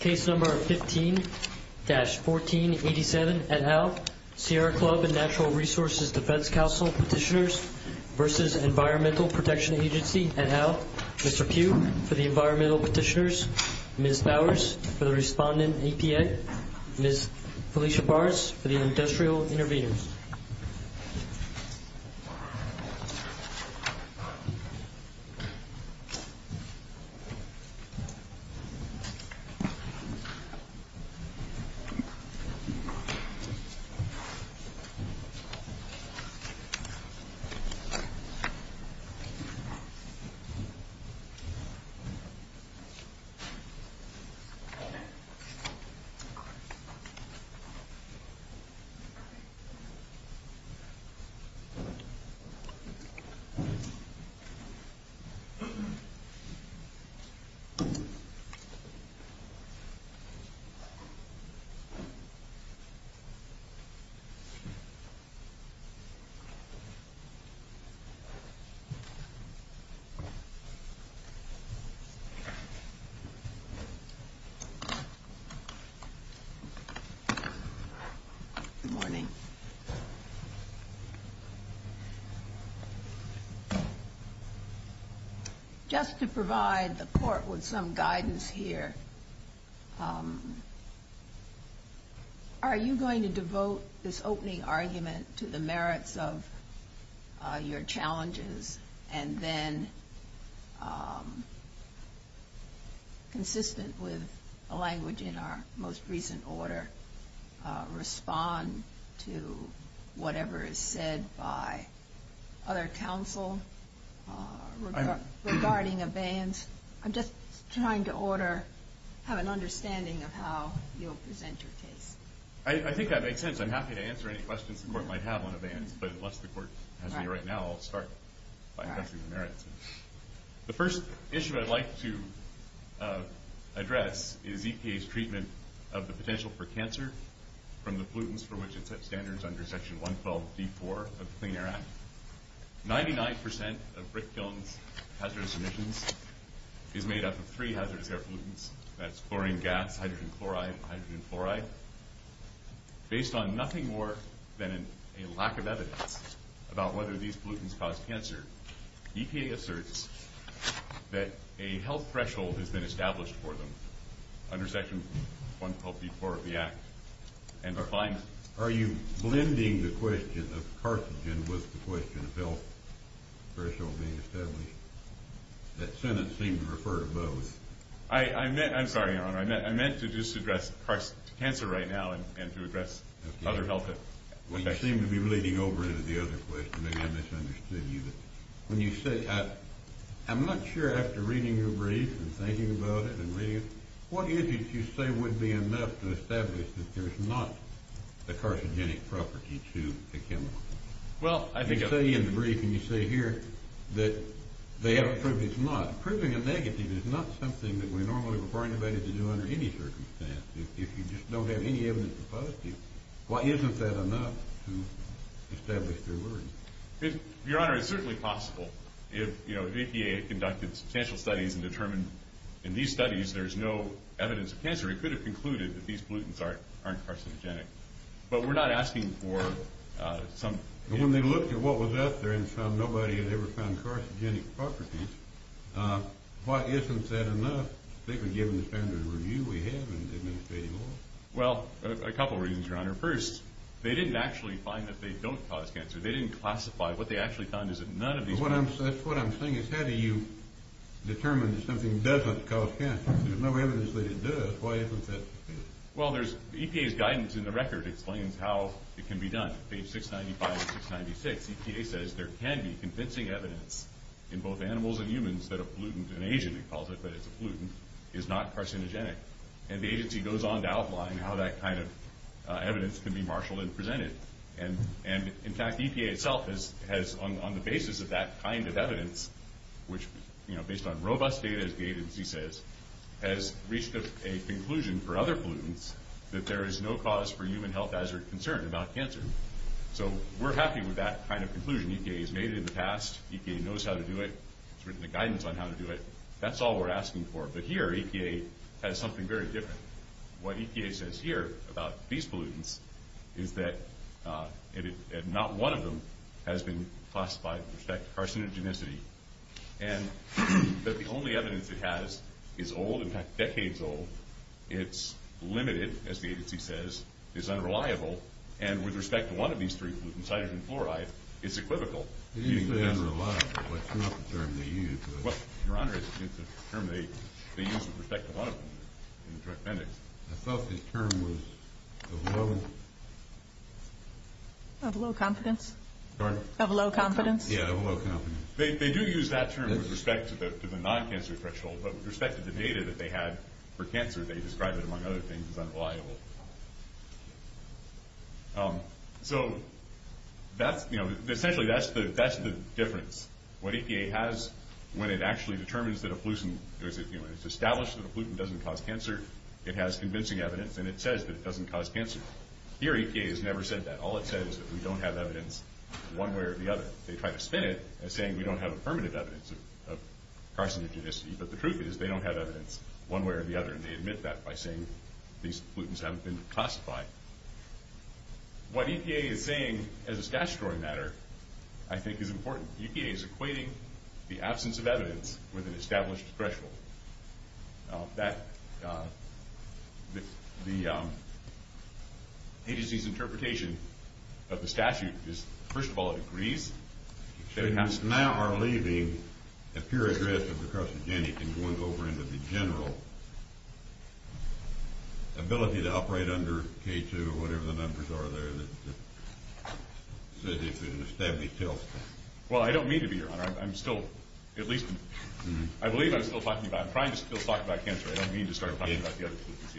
Case number 15-1487 et al. Sierra Club and Natural Resources Defense Council petitioners versus Environmental Protection Agency et al. Mr. Pugh for the environmental petitioners, Ms. Bowers for the respondent EPA, Ms. Felicia Good morning. Just to provide the Court with some guidance here, are you going to devote this opening argument to the merits of your challenges and then, consistent with the language in our most recent order, respond to the challenges? To whatever is said by other counsel regarding abeyance. I'm just trying to order, have an understanding of how you'll present your case. I think that makes sense. I'm happy to answer any questions the Court might have on abeyance, but unless the Court has any right now, I'll start by addressing the merits. The first issue I'd like to address is EPA's treatment of the potential for cancer from the pollutants from which it set standards under Section 112.4 of the Clean Air Act. 99% of brick kilns' hazardous emissions is made up of three hazardous air pollutants. That's chlorine gas, hydrogen chloride, and hydrogen fluoride. Based on nothing more than a lack of evidence about whether these pollutants cause cancer, EPA asserts that a health threshold has been established for them under Section 112.4 of the Act. Are you blending the question of carcinogen with the question of health threshold being established? That sentence seemed to refer to both. I'm sorry, Your Honor. I meant to just address cancer right now and to address other health effects. You seem to be leading over into the other question. Maybe I misunderstood you. I'm not sure after reading your brief and thinking about it and reading it, what is it you say would be enough to establish that there's not a carcinogenic property to a chemical? You say in the brief and you say here that they haven't proved it's not. Proving a negative is not something that we normally require anybody to do under any circumstance. If you just don't have any evidence to propose to you, isn't that enough to establish they're worthy? Your Honor, it's certainly possible. If EPA had conducted substantial studies and determined in these studies there's no evidence of cancer, we could have concluded that these pollutants aren't carcinogenic. But we're not asking for some… When they looked at what was out there and found nobody had ever found carcinogenic properties, why isn't that enough? They could give them the standard review we have in the Administrative Law. Well, a couple of reasons, Your Honor. First, they didn't actually find that they don't cause cancer. They didn't classify. What they actually found is that none of these… That's what I'm saying is how do you determine that something doesn't cause cancer? If there's no evidence that it does, why isn't that… Well, EPA's guidance in the record explains how it can be done. Page 695 and 696, EPA says there can be convincing evidence in both animals and humans that a pollutant, an agent they call it but it's a pollutant, is not carcinogenic. And the agency goes on to outline how that kind of evidence can be marshaled and presented. And, in fact, EPA itself has, on the basis of that kind of evidence, which, you know, based on robust data as the agency says, has reached a conclusion for other pollutants that there is no cause for human health hazard concern about cancer. So we're happy with that kind of conclusion. EPA has made it in the past. EPA knows how to do it. It's written the guidance on how to do it. That's all we're asking for. But here, EPA has something very different. What EPA says here about these pollutants is that not one of them has been classified with respect to carcinogenicity. And that the only evidence it has is old, in fact, decades old. It's limited, as the agency says. It's unreliable. And with respect to one of these three pollutants, hydrogen fluoride, it's equivocal. It is unreliable, but it's not the term they use. Well, Your Honor, it's a term they use with respect to a lot of them in the Joint Appendix. I thought the term was of low... Of low confidence. Pardon? Of low confidence. Yeah, of low confidence. They do use that term with respect to the non-cancer threshold, but with respect to the data that they had for cancer, they describe it, among other things, as unreliable. So that's, you know, essentially that's the difference. What EPA has when it actually determines that a pollutant... When it's established that a pollutant doesn't cause cancer, it has convincing evidence, and it says that it doesn't cause cancer. Here, EPA has never said that. All it says is that we don't have evidence one way or the other. They try to spin it as saying we don't have affirmative evidence of carcinogenicity, but the truth is they don't have evidence one way or the other, and they admit that by saying these pollutants haven't been classified. What EPA is saying as a statutory matter, I think, is important. EPA is equating the absence of evidence with an established threshold. The agency's interpretation of the statute is, first of all, it agrees. So you now are leaving a pure aggressive carcinogenic and going over into the general ability to operate under K2 or whatever the numbers are there that says if you're going to stab me, kill me. Well, I don't mean to be, Your Honor. I'm still, at least, I believe I'm still talking about it. I'm trying to still talk about cancer. I don't mean to start talking about the other pollutants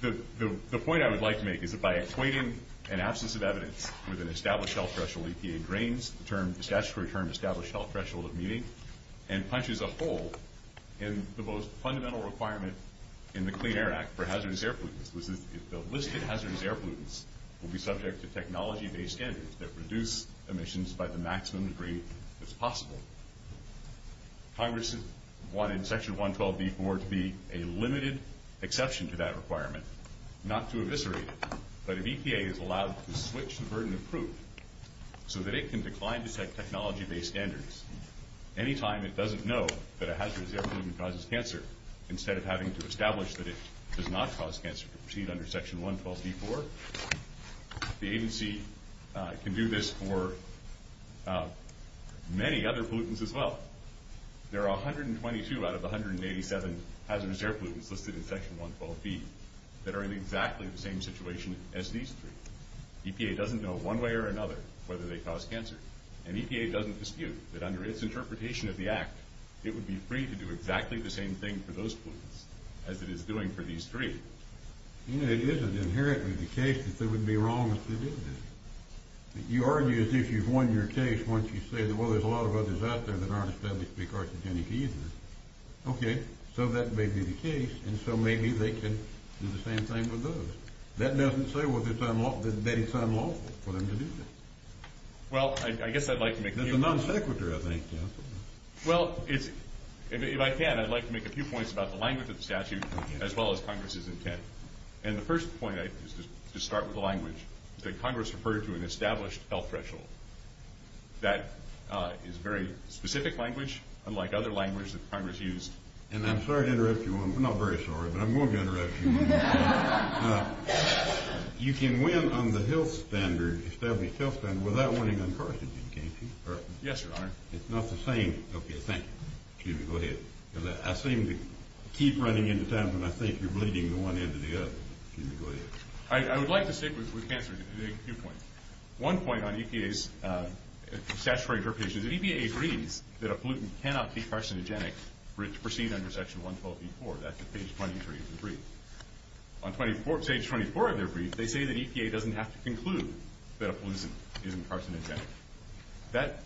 yet. The point I would like to make is that by equating an absence of evidence with an established health threshold, EPA drains the statutory term established health threshold of meaning and punches a hole in the most fundamental requirement in the Clean Air Act for hazardous air pollutants. The listed hazardous air pollutants will be subject to technology-based standards that reduce emissions by the maximum degree that's possible. Congress wanted Section 112b.4 to be a limited exception to that requirement, not to eviscerate it. But if EPA is allowed to switch the burden of proof so that it can decline to set technology-based standards any time it doesn't know that a hazardous air pollutant causes cancer instead of having to establish that it does not cause cancer to proceed under Section 112b.4, the agency can do this for many other pollutants as well. There are 122 out of the 187 hazardous air pollutants listed in Section 112b that are in exactly the same situation as these three. EPA doesn't know one way or another whether they cause cancer, and EPA doesn't dispute that under its interpretation of the Act, it would be free to do exactly the same thing for those pollutants as it is doing for these three. It isn't inherently the case that they would be wrong if they did this. You argue as if you've won your case once you say, well, there's a lot of others out there that aren't established to be carcinogenic either. Okay, so that may be the case, and so maybe they can do the same thing with those. That doesn't say that it's unlawful for them to do this. Well, I guess I'd like to make a few points. That's a non sequitur, I think. Well, if I can, I'd like to make a few points about the language of the statute as well as Congress's intent. The first point is to start with the language that Congress referred to in the established health threshold. That is very specific language, unlike other language that Congress used. I'm sorry to interrupt you. I'm not very sorry, but I'm going to interrupt you. You can win on the health standard, established health standard, without winning on carcinogen, can't you? Yes, Your Honor. It's not the same. Okay, thank you. Excuse me, go ahead. I seem to keep running into times when I think you're bleeding one end to the other. Excuse me, go ahead. I would like to stick with cancer to make a few points. One point on EPA's statutory interpretation is that EPA agrees that a pollutant cannot be carcinogenic for it to proceed under Section 112.84. That's at page 23 of the brief. On page 24 of their brief, they say that EPA doesn't have to conclude that a pollutant isn't carcinogenic. That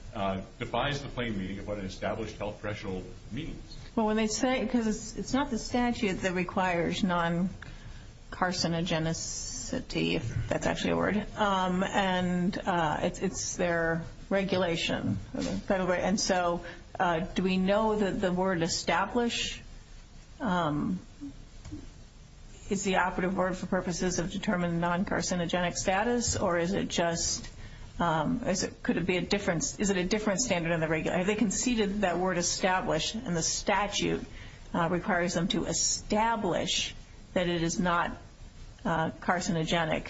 defies the plain meaning of what an established health threshold means. Because it's not the statute that requires non-carcinogenicity, if that's actually a word, and it's their regulation. And so do we know that the word establish is the operative word for purposes of determining non-carcinogenic status? Or is it just could it be a different standard in the regulation? They conceded that word established, and the statute requires them to establish that it is not carcinogenic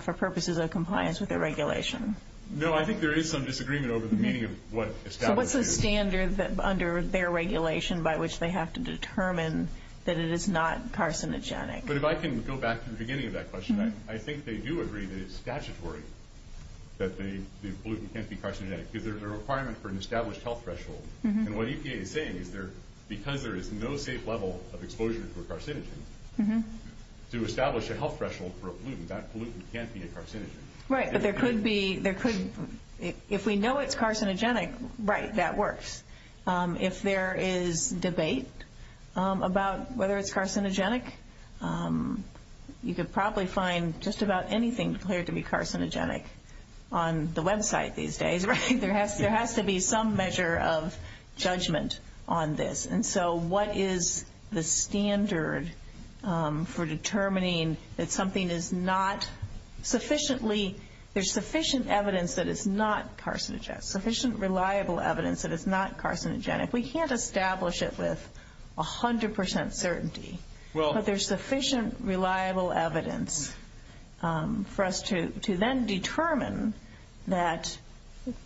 for purposes of compliance with their regulation. No, I think there is some disagreement over the meaning of what established is. So what's the standard under their regulation by which they have to determine that it is not carcinogenic? But if I can go back to the beginning of that question, I think they do agree that it's statutory that the pollutant can't be carcinogenic because there's a requirement for an established health threshold. And what EPA is saying is because there is no safe level of exposure to a carcinogen, to establish a health threshold for a pollutant, that pollutant can't be a carcinogen. Right, but there could be – if we know it's carcinogenic, right, that works. If there is debate about whether it's carcinogenic, you could probably find just about anything declared to be carcinogenic on the website these days, right? There has to be some measure of judgment on this. And so what is the standard for determining that something is not sufficiently – there's sufficient evidence that it's not carcinogenic, sufficient reliable evidence that it's not carcinogenic. We can't establish it with 100% certainty. But there's sufficient reliable evidence for us to then determine that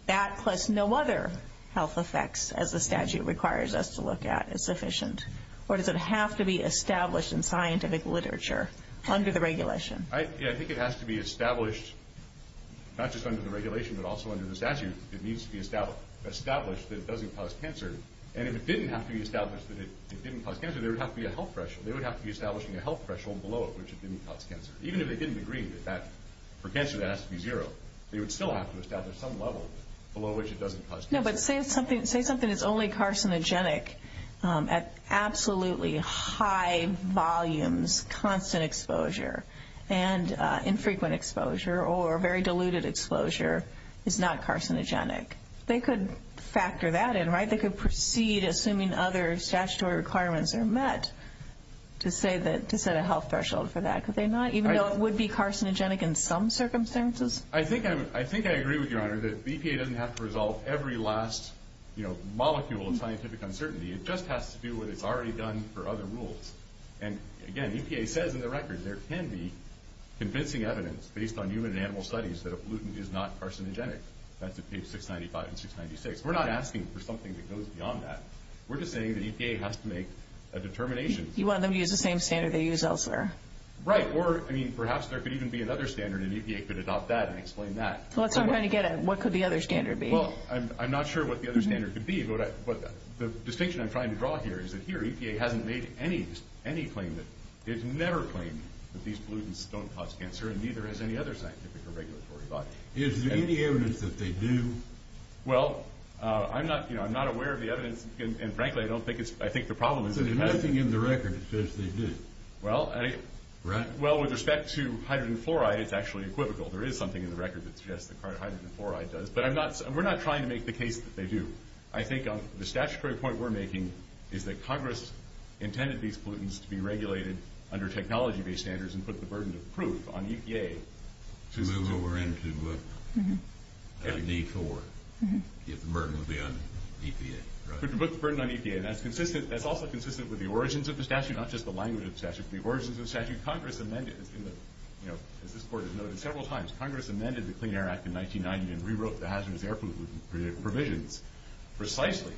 that, unless no other health effects, as the statute requires us to look at, is sufficient. Or does it have to be established in scientific literature under the regulation? Yeah, I think it has to be established not just under the regulation but also under the statute. It needs to be established that it doesn't cause cancer. And if it didn't have to be established that it didn't cause cancer, there would have to be a health threshold. They would have to be establishing a health threshold below it which it didn't cause cancer. Even if they didn't agree that for cancer that has to be zero, they would still have to establish some level below which it doesn't cause cancer. No, but say something is only carcinogenic at absolutely high volumes, constant exposure, and infrequent exposure or very diluted exposure is not carcinogenic. They could factor that in, right? They could proceed, assuming other statutory requirements are met, to set a health threshold for that. Could they not, even though it would be carcinogenic in some circumstances? I think I agree with you, Your Honor, that the EPA doesn't have to resolve every last molecule of scientific uncertainty. It just has to do what it's already done for other rules. And, again, the EPA says in the record there can be convincing evidence based on human and animal studies that a pollutant is not carcinogenic. That's at page 695 and 696. We're not asking for something that goes beyond that. We're just saying the EPA has to make a determination. You want them to use the same standard they use elsewhere. Right. Or, I mean, perhaps there could even be another standard, and the EPA could adopt that and explain that. What could the other standard be? Well, I'm not sure what the other standard could be, but the distinction I'm trying to draw here is that here EPA hasn't made any claim that these pollutants don't cause cancer, and neither has any other scientific or regulatory body. Is there any evidence that they do? Well, I'm not aware of the evidence, and, frankly, I think the problem is that There's nothing in the record that says they do. Right. Well, with respect to hydrogen fluoride, it's actually equivocal. There is something in the record that suggests that hydrogen fluoride does. But we're not trying to make the case that they do. I think the statutory point we're making is that Congress intended these pollutants to be regulated under technology-based standards and put the burden of proof on EPA. To move over into a D-4 if the burden would be on EPA. To put the burden on EPA. That's also consistent with the origins of the statute, not just the language of the statute, but the origins of the statute. Congress amended, as this Court has noted several times, Congress amended the Clean Air Act in 1990 and rewrote the hazardous air pollutant provisions precisely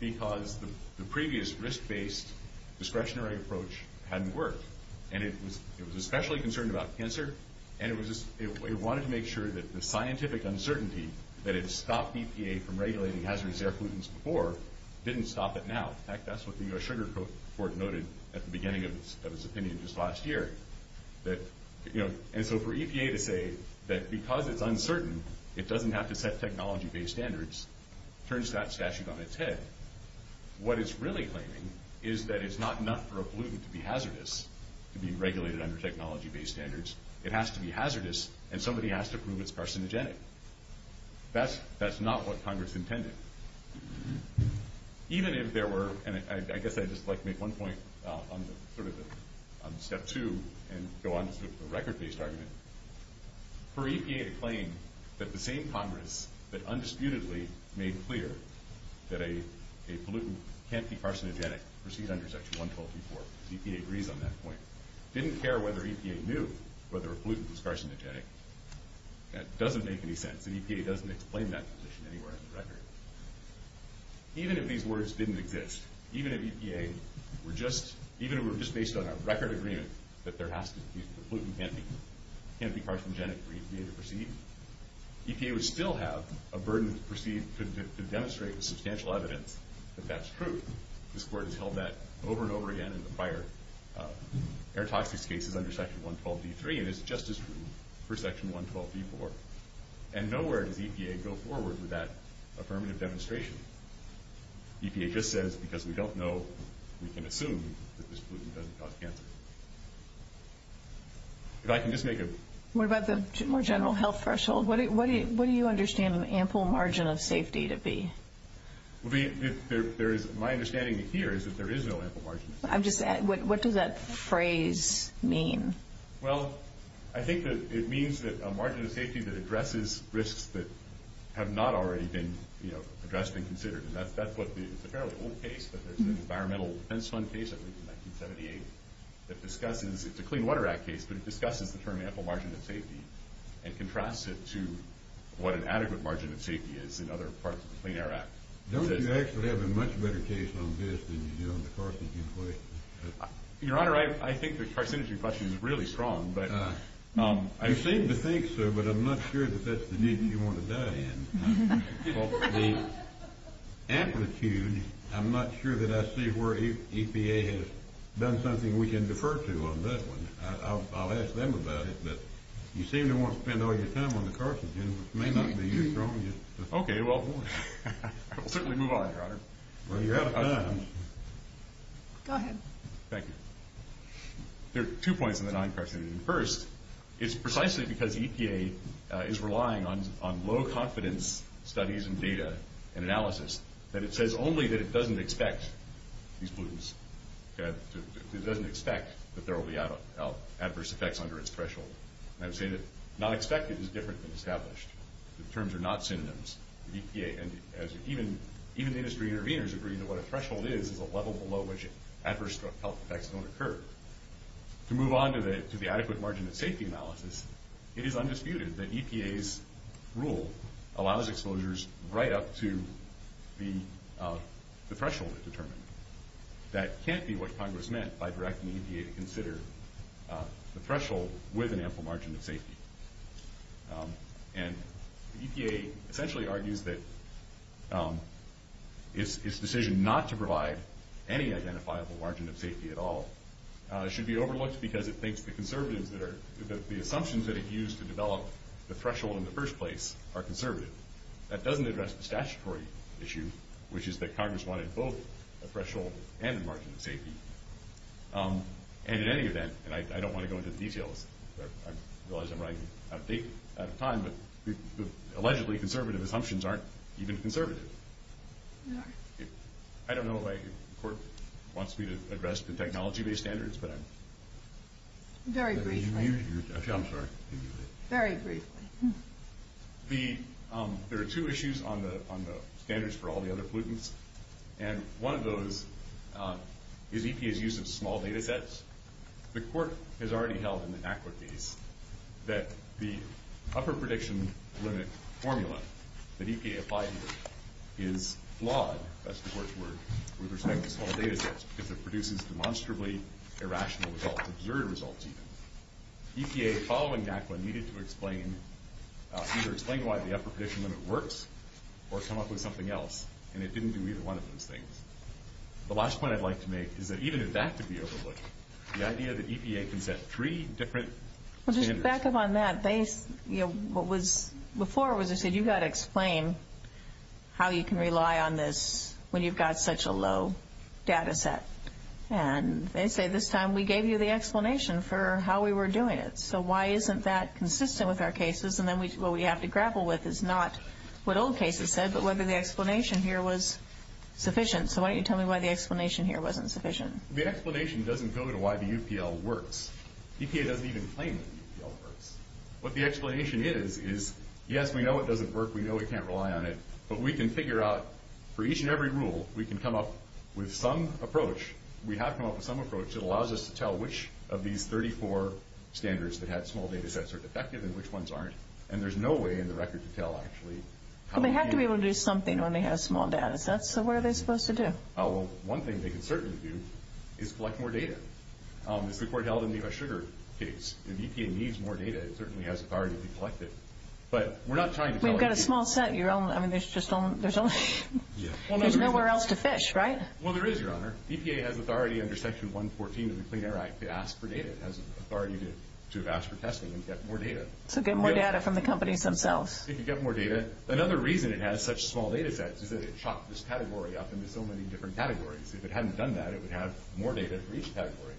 because the previous risk-based discretionary approach hadn't worked. And it was especially concerned about cancer, and it wanted to make sure that the scientific uncertainty that had stopped EPA from regulating hazardous air pollutants before didn't stop it now. In fact, that's what the U.S. Sugar Court noted at the beginning of its opinion just last year. And so for EPA to say that because it's uncertain, it doesn't have to set technology-based standards, turns that statute on its head. What it's really claiming is that it's not enough for a pollutant to be hazardous to be regulated under technology-based standards. It has to be hazardous, and somebody has to prove it's carcinogenic. That's not what Congress intended. Even if there were, and I guess I'd just like to make one point on sort of step two and go on to sort of a record-based argument. For EPA to claim that the same Congress that undisputedly made clear that a pollutant can't be carcinogenic, proceeds under Section 112.3.4. EPA agrees on that point. Didn't care whether EPA knew whether a pollutant was carcinogenic. That doesn't make any sense. And EPA doesn't explain that position anywhere on the record. Even if these words didn't exist, even if EPA were just based on a record agreement that there has to be a pollutant can't be carcinogenic for EPA to proceed, EPA would still have a burden to proceed to demonstrate with substantial evidence that that's true. This Court has held that over and over again in the prior air toxics cases under Section 112.3.3, and it's just as true for Section 112.3.4. And nowhere does EPA go forward with that affirmative demonstration. EPA just says, because we don't know, we can assume that this pollutant doesn't cause cancer. If I can just make a... What about the more general health threshold? What do you understand an ample margin of safety to be? My understanding here is that there is no ample margin. I'm just asking, what does that phrase mean? Well, I think that it means that a margin of safety that addresses risks that have not already been addressed and considered. And that's what the... It's a fairly old case, but there's an Environmental Defense Fund case, I believe in 1978, that discusses... It's a Clean Water Act case, but it discusses the term ample margin of safety and contrasts it to what an adequate margin of safety is in other parts of the Clean Air Act. Don't you actually have a much better case on this than you do on the carcinogen question? Your Honor, I think the carcinogen question is really strong, but... You seem to think so, but I'm not sure that that's the niche you want to die in. The amplitude, I'm not sure that I see where EPA has done something we can defer to on that one. I'll ask them about it, but you seem to want to spend all your time on the carcinogen, which may not be as strong as... Okay, well, we'll certainly move on, Your Honor. Well, you're out of time. Go ahead. Thank you. There are two points on the non-carcinogen. First, it's precisely because EPA is relying on low-confidence studies and data and analysis that it says only that it doesn't expect these pollutants... It doesn't expect that there will be adverse effects under its threshold. And I'm saying that not expected is different than established. The terms are not synonyms. Even industry interveners agree that what a threshold is is a level below which adverse health effects don't occur. To move on to the adequate margin of safety analysis, it is undisputed that EPA's rule allows exposures right up to the threshold it determined. That can't be what Congress meant by directing EPA to consider the threshold with an ample margin of safety. And EPA essentially argues that its decision not to provide any identifiable margin of safety at all should be overlooked because it thinks the assumptions that it used to develop the threshold in the first place are conservative. That doesn't address the statutory issue, which is that Congress wanted both a threshold and a margin of safety. And in any event, and I don't want to go into the details, because I realize I'm running out of time, but the allegedly conservative assumptions aren't even conservative. I don't know if the court wants me to address the technology-based standards. Very briefly. I'm sorry. Very briefly. There are two issues on the standards for all the other pollutants, and one of those is EPA's use of small data sets. The court has already held in the NAQA case that the upper prediction limit formula that EPA applied here is flawed, that's the court's word, with respect to small data sets because it produces demonstrably irrational results, absurd results even. EPA, following NAQA, needed to explain either explain why the upper prediction limit works or come up with something else, and it didn't do either one of those things. The last point I'd like to make is that even if that could be overlooked, the idea that EPA can set three different standards. Well, just to back up on that, what was before was they said you've got to explain how you can rely on this when you've got such a low data set. And they say this time we gave you the explanation for how we were doing it, so why isn't that consistent with our cases? And then what we have to grapple with is not what old cases said but whether the explanation here was sufficient. So why don't you tell me why the explanation here wasn't sufficient. The explanation doesn't go to why the UPL works. EPA doesn't even claim that the UPL works. What the explanation is, is yes, we know it doesn't work, we know we can't rely on it, but we can figure out for each and every rule, we can come up with some approach. We have come up with some approach that allows us to tell which of these 34 standards that had small data sets are defective and which ones aren't. And there's no way in the record to tell, actually. Well, they have to be able to do something when they have small data sets, so what are they supposed to do? Oh, well, one thing they can certainly do is collect more data. As the Court held in the sugar case, if EPA needs more data, it certainly has authority to collect it. But we're not trying to tell it to you. We've got a small set. I mean, there's nowhere else to fish, right? Well, there is, Your Honor. EPA has authority under Section 114 of the Clean Air Act to ask for data. It has authority to have asked for testing and get more data. So get more data from the companies themselves. If you get more data. Another reason it has such small data sets is that it chopped this category up into so many different categories. If it hadn't done that, it would have more data for each category.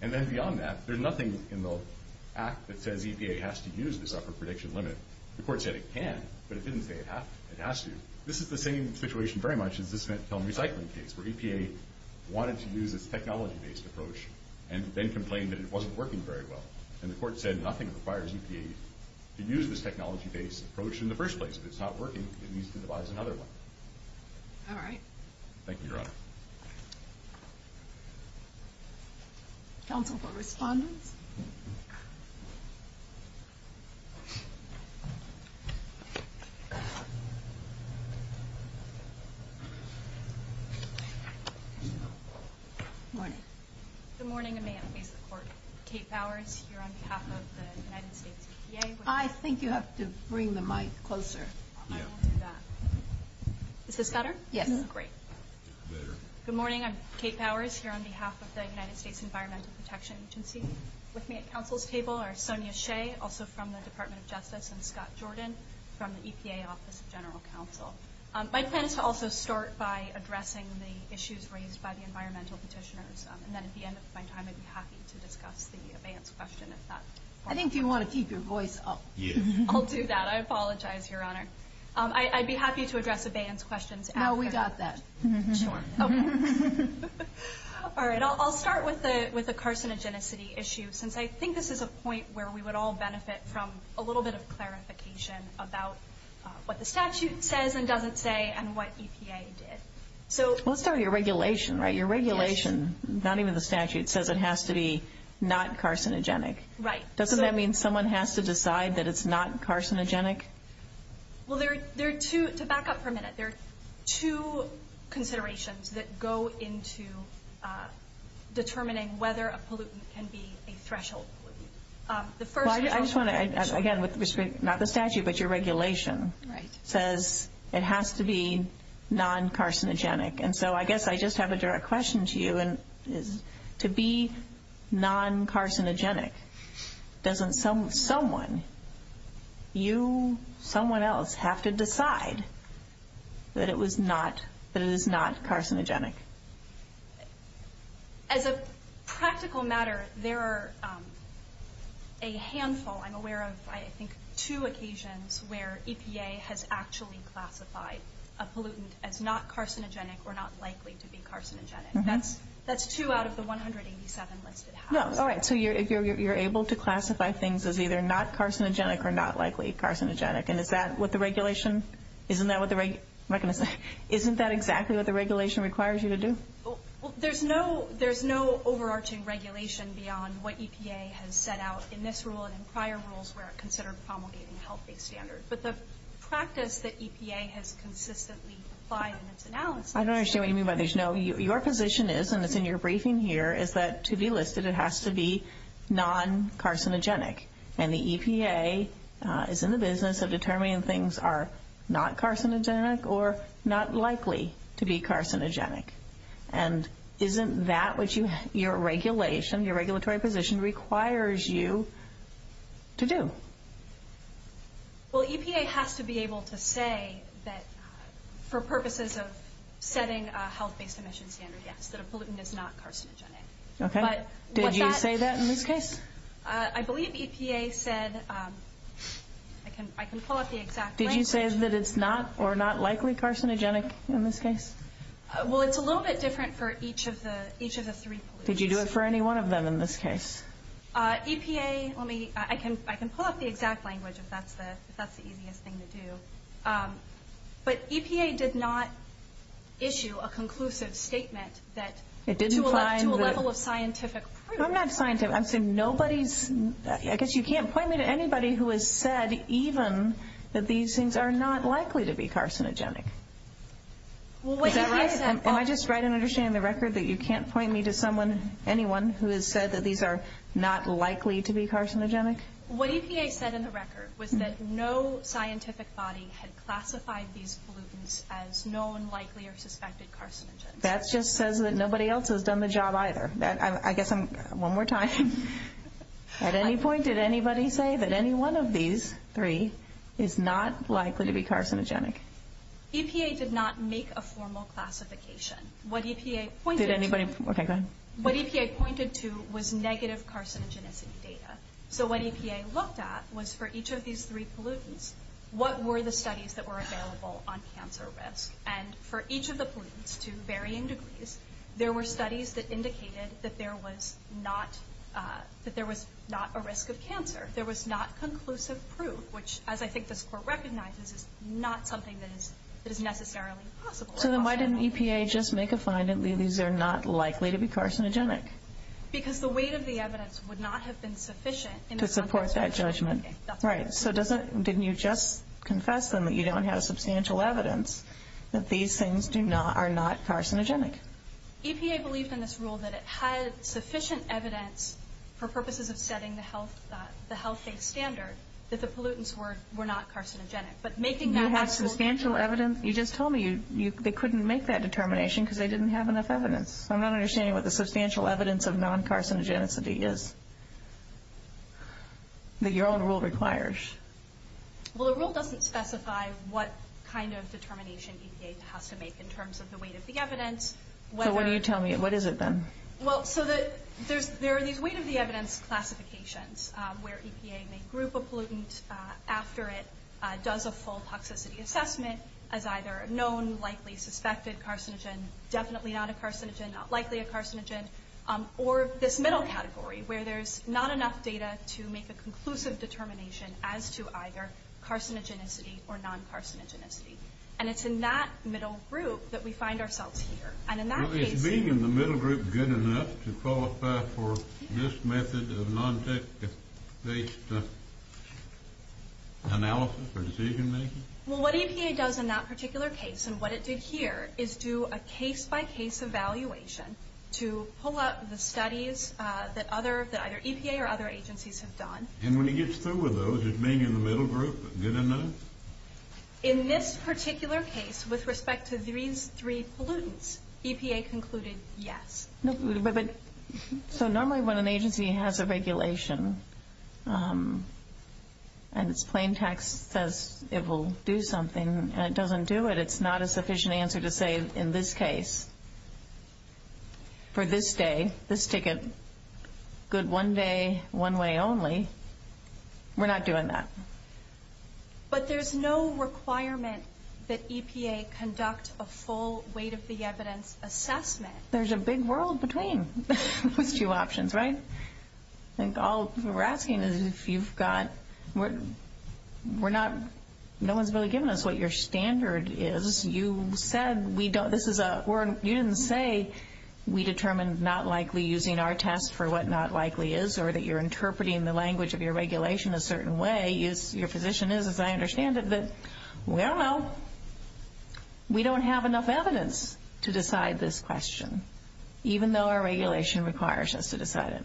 And then beyond that, there's nothing in the Act that says EPA has to use this upper prediction limit. The Court said it can, but it didn't say it has to. This is the same situation very much as the cement film recycling case, where EPA wanted to use this technology-based approach and then complained that it wasn't working very well. And the Court said nothing requires EPA to use this technology-based approach in the first place. If it's not working, it needs to devise another one. All right. Thank you, Your Honor. Counsel for Respondents. Good morning. Good morning, Amanda. Kate Bowers here on behalf of the United States EPA. I think you have to bring the mic closer. I will do that. Is this better? Yes. Great. Good morning. I'm Kate Bowers here on behalf of the United States Environmental Protection Agency. With me at counsel's table are Sonia Shea, also from the Department of Justice, and Scott Jordan from the EPA Office of General Counsel. My plan is to also start by addressing the issues raised by the environmental petitioners. And then at the end of my time, I'd be happy to discuss the abeyance question. I think you want to keep your voice up. I'll do that. I apologize, Your Honor. I'd be happy to address abeyance questions after. No, we got that. Sure. Okay. All right. I'll start with the carcinogenicity issue, since I think this is a point where we would all benefit from a little bit of clarification about what the statute says and doesn't say and what EPA did. We'll start with your regulation, right? Your regulation, not even the statute, says it has to be not carcinogenic. Right. Doesn't that mean someone has to decide that it's not carcinogenic? Well, there are two, to back up for a minute, there are two considerations that go into determining whether a pollutant can be a threshold pollutant. Well, I just want to, again, not the statute but your regulation, says it has to be non-carcinogenic. And so I guess I just have a direct question to you, and to be non-carcinogenic, doesn't someone, you, someone else, have to decide that it is not carcinogenic? As a practical matter, there are a handful, I'm aware of, I think, two occasions where EPA has actually classified a pollutant as not carcinogenic or not likely to be carcinogenic. That's two out of the 187 listed houses. No, all right, so you're able to classify things as either not carcinogenic or not likely carcinogenic, and is that what the regulation, isn't that what the regulation, I'm not going to say, isn't that exactly what the regulation requires you to do? There's no overarching regulation beyond what EPA has set out in this rule and in prior rules where it considered promulgating health-based standards. But the practice that EPA has consistently applied in its analysis. I don't understand what you mean by there's no, your position is, and it's in your briefing here, is that to be listed it has to be non-carcinogenic. And the EPA is in the business of determining things are not carcinogenic or not likely to be carcinogenic. And isn't that what your regulation, your regulatory position requires you to do? Well, EPA has to be able to say that for purposes of setting a health-based emission standard, yes, that a pollutant is not carcinogenic. Okay, did you say that in this case? I believe EPA said, I can pull up the exact language. Did you say that it's not or not likely carcinogenic in this case? Well, it's a little bit different for each of the three pollutants. Did you do it for any one of them in this case? EPA, let me, I can pull up the exact language if that's the easiest thing to do. But EPA did not issue a conclusive statement that to a level of scientific proof. I'm not scientific. I'm saying nobody's, I guess you can't point me to anybody who has said even that these things are not likely to be carcinogenic. Is that right? Am I just right in understanding the record that you can't point me to someone, anyone who has said that these are not likely to be carcinogenic? What EPA said in the record was that no scientific body had classified these pollutants as known, likely, or suspected carcinogens. That just says that nobody else has done the job either. I guess I'm, one more time. At any point, did anybody say that any one of these three is not likely to be carcinogenic? EPA did not make a formal classification. What EPA pointed to. Did anybody, okay, go ahead. What EPA pointed to was negative carcinogenicity data. So what EPA looked at was for each of these three pollutants, what were the studies that were available on cancer risk? And for each of the pollutants to varying degrees, there were studies that indicated that there was not a risk of cancer. There was not conclusive proof, which, as I think this Court recognizes, is not something that is necessarily possible. So then why didn't EPA just make a find that these are not likely to be carcinogenic? Because the weight of the evidence would not have been sufficient to support that judgment. Right. So didn't you just confess then that you don't have substantial evidence that these things are not carcinogenic? EPA believed in this rule that it had sufficient evidence for purposes of setting the health-based standard that the pollutants were not carcinogenic. You have substantial evidence? You just told me they couldn't make that determination because they didn't have enough evidence. I'm not understanding what the substantial evidence of non-carcinogenicity is that your own rule requires. Well, the rule doesn't specify what kind of determination EPA has to make in terms of the weight of the evidence. So what do you tell me? What is it then? Well, so there are these weight-of-the-evidence classifications where EPA may group a pollutant after it does a full toxicity assessment as either a known, likely, suspected carcinogen, definitely not a carcinogen, not likely a carcinogen, or this middle category where there's not enough data to make a conclusive determination as to either carcinogenicity or non-carcinogenicity. And it's in that middle group that we find ourselves here. Well, is being in the middle group good enough to qualify for this method of non-tech-based analysis or decision-making? Well, what EPA does in that particular case and what it did here is do a case-by-case evaluation to pull up the studies that either EPA or other agencies have done. And when it gets through with those, is being in the middle group good enough? In this particular case, with respect to these three pollutants, EPA concluded yes. But so normally when an agency has a regulation and its plain text says it will do something and it doesn't do it, it's not a sufficient answer to say, in this case, for this day, this ticket, good one day, one way only, we're not doing that. But there's no requirement that EPA conduct a full weight-of-the-evidence assessment. There's a big world between those two options, right? I think all we're asking is if you've got... No one's really given us what your standard is. You said we don't... You didn't say we determined not likely using our test for what not likely is or that you're interpreting the language of your regulation a certain way or what your position is, as I understand it, but we don't know. We don't have enough evidence to decide this question, even though our regulation requires us to decide it.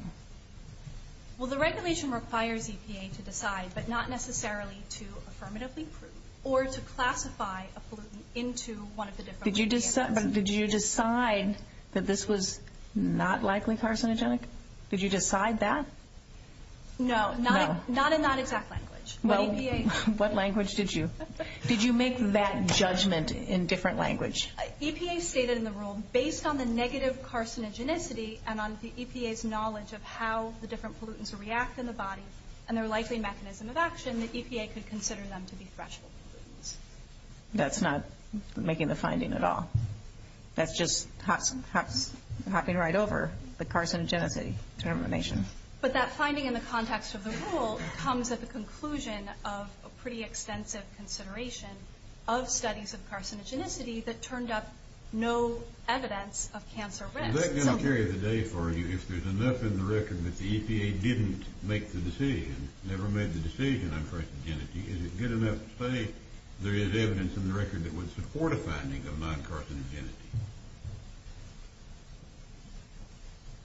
Well, the regulation requires EPA to decide, but not necessarily to affirmatively prove or to classify a pollutant into one of the different... But did you decide that this was not likely carcinogenic? Did you decide that? No, not in that exact language. What language did you... Did you make that judgment in different language? EPA stated in the rule, based on the negative carcinogenicity and on the EPA's knowledge of how the different pollutants react in the body and their likely mechanism of action, the EPA could consider them to be threshold pollutants. That's not making the finding at all. That's just hopping right over the carcinogenicity determination. But that finding in the context of the rule comes at the conclusion of a pretty extensive consideration of studies of carcinogenicity that turned up no evidence of cancer risk. Is that going to carry the day for you if there's enough in the record that the EPA didn't make the decision, never made the decision on carcinogenicity? Is it good enough to say there is evidence in the record that would support a finding of non-carcinogenicity?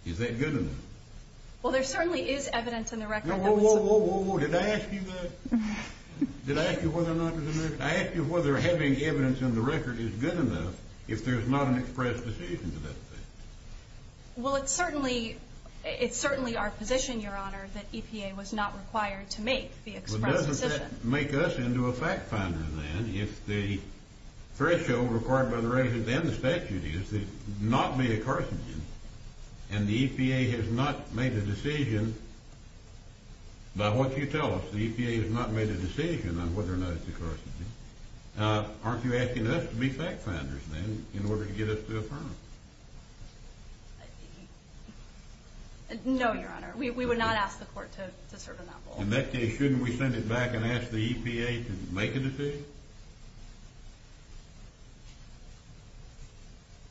Is that good enough? Well, there certainly is evidence in the record that would support... Whoa, whoa, whoa, whoa. Did I ask you that? Did I ask you whether or not... I asked you whether having evidence in the record is good enough if there's not an express decision to that effect. Well, it's certainly our position, Your Honor, that EPA was not required to make the express decision. Well, doesn't that make us into a fact finder then if the threshold required by the statute is to not be a carcinogen and the EPA has not made a decision by what you tell us. The EPA has not made a decision on whether or not it's a carcinogen. Aren't you asking us to be fact finders then in order to get us to affirm? No, Your Honor. We would not ask the court to serve in that role. In that case, shouldn't we send it back and ask the EPA to make a decision?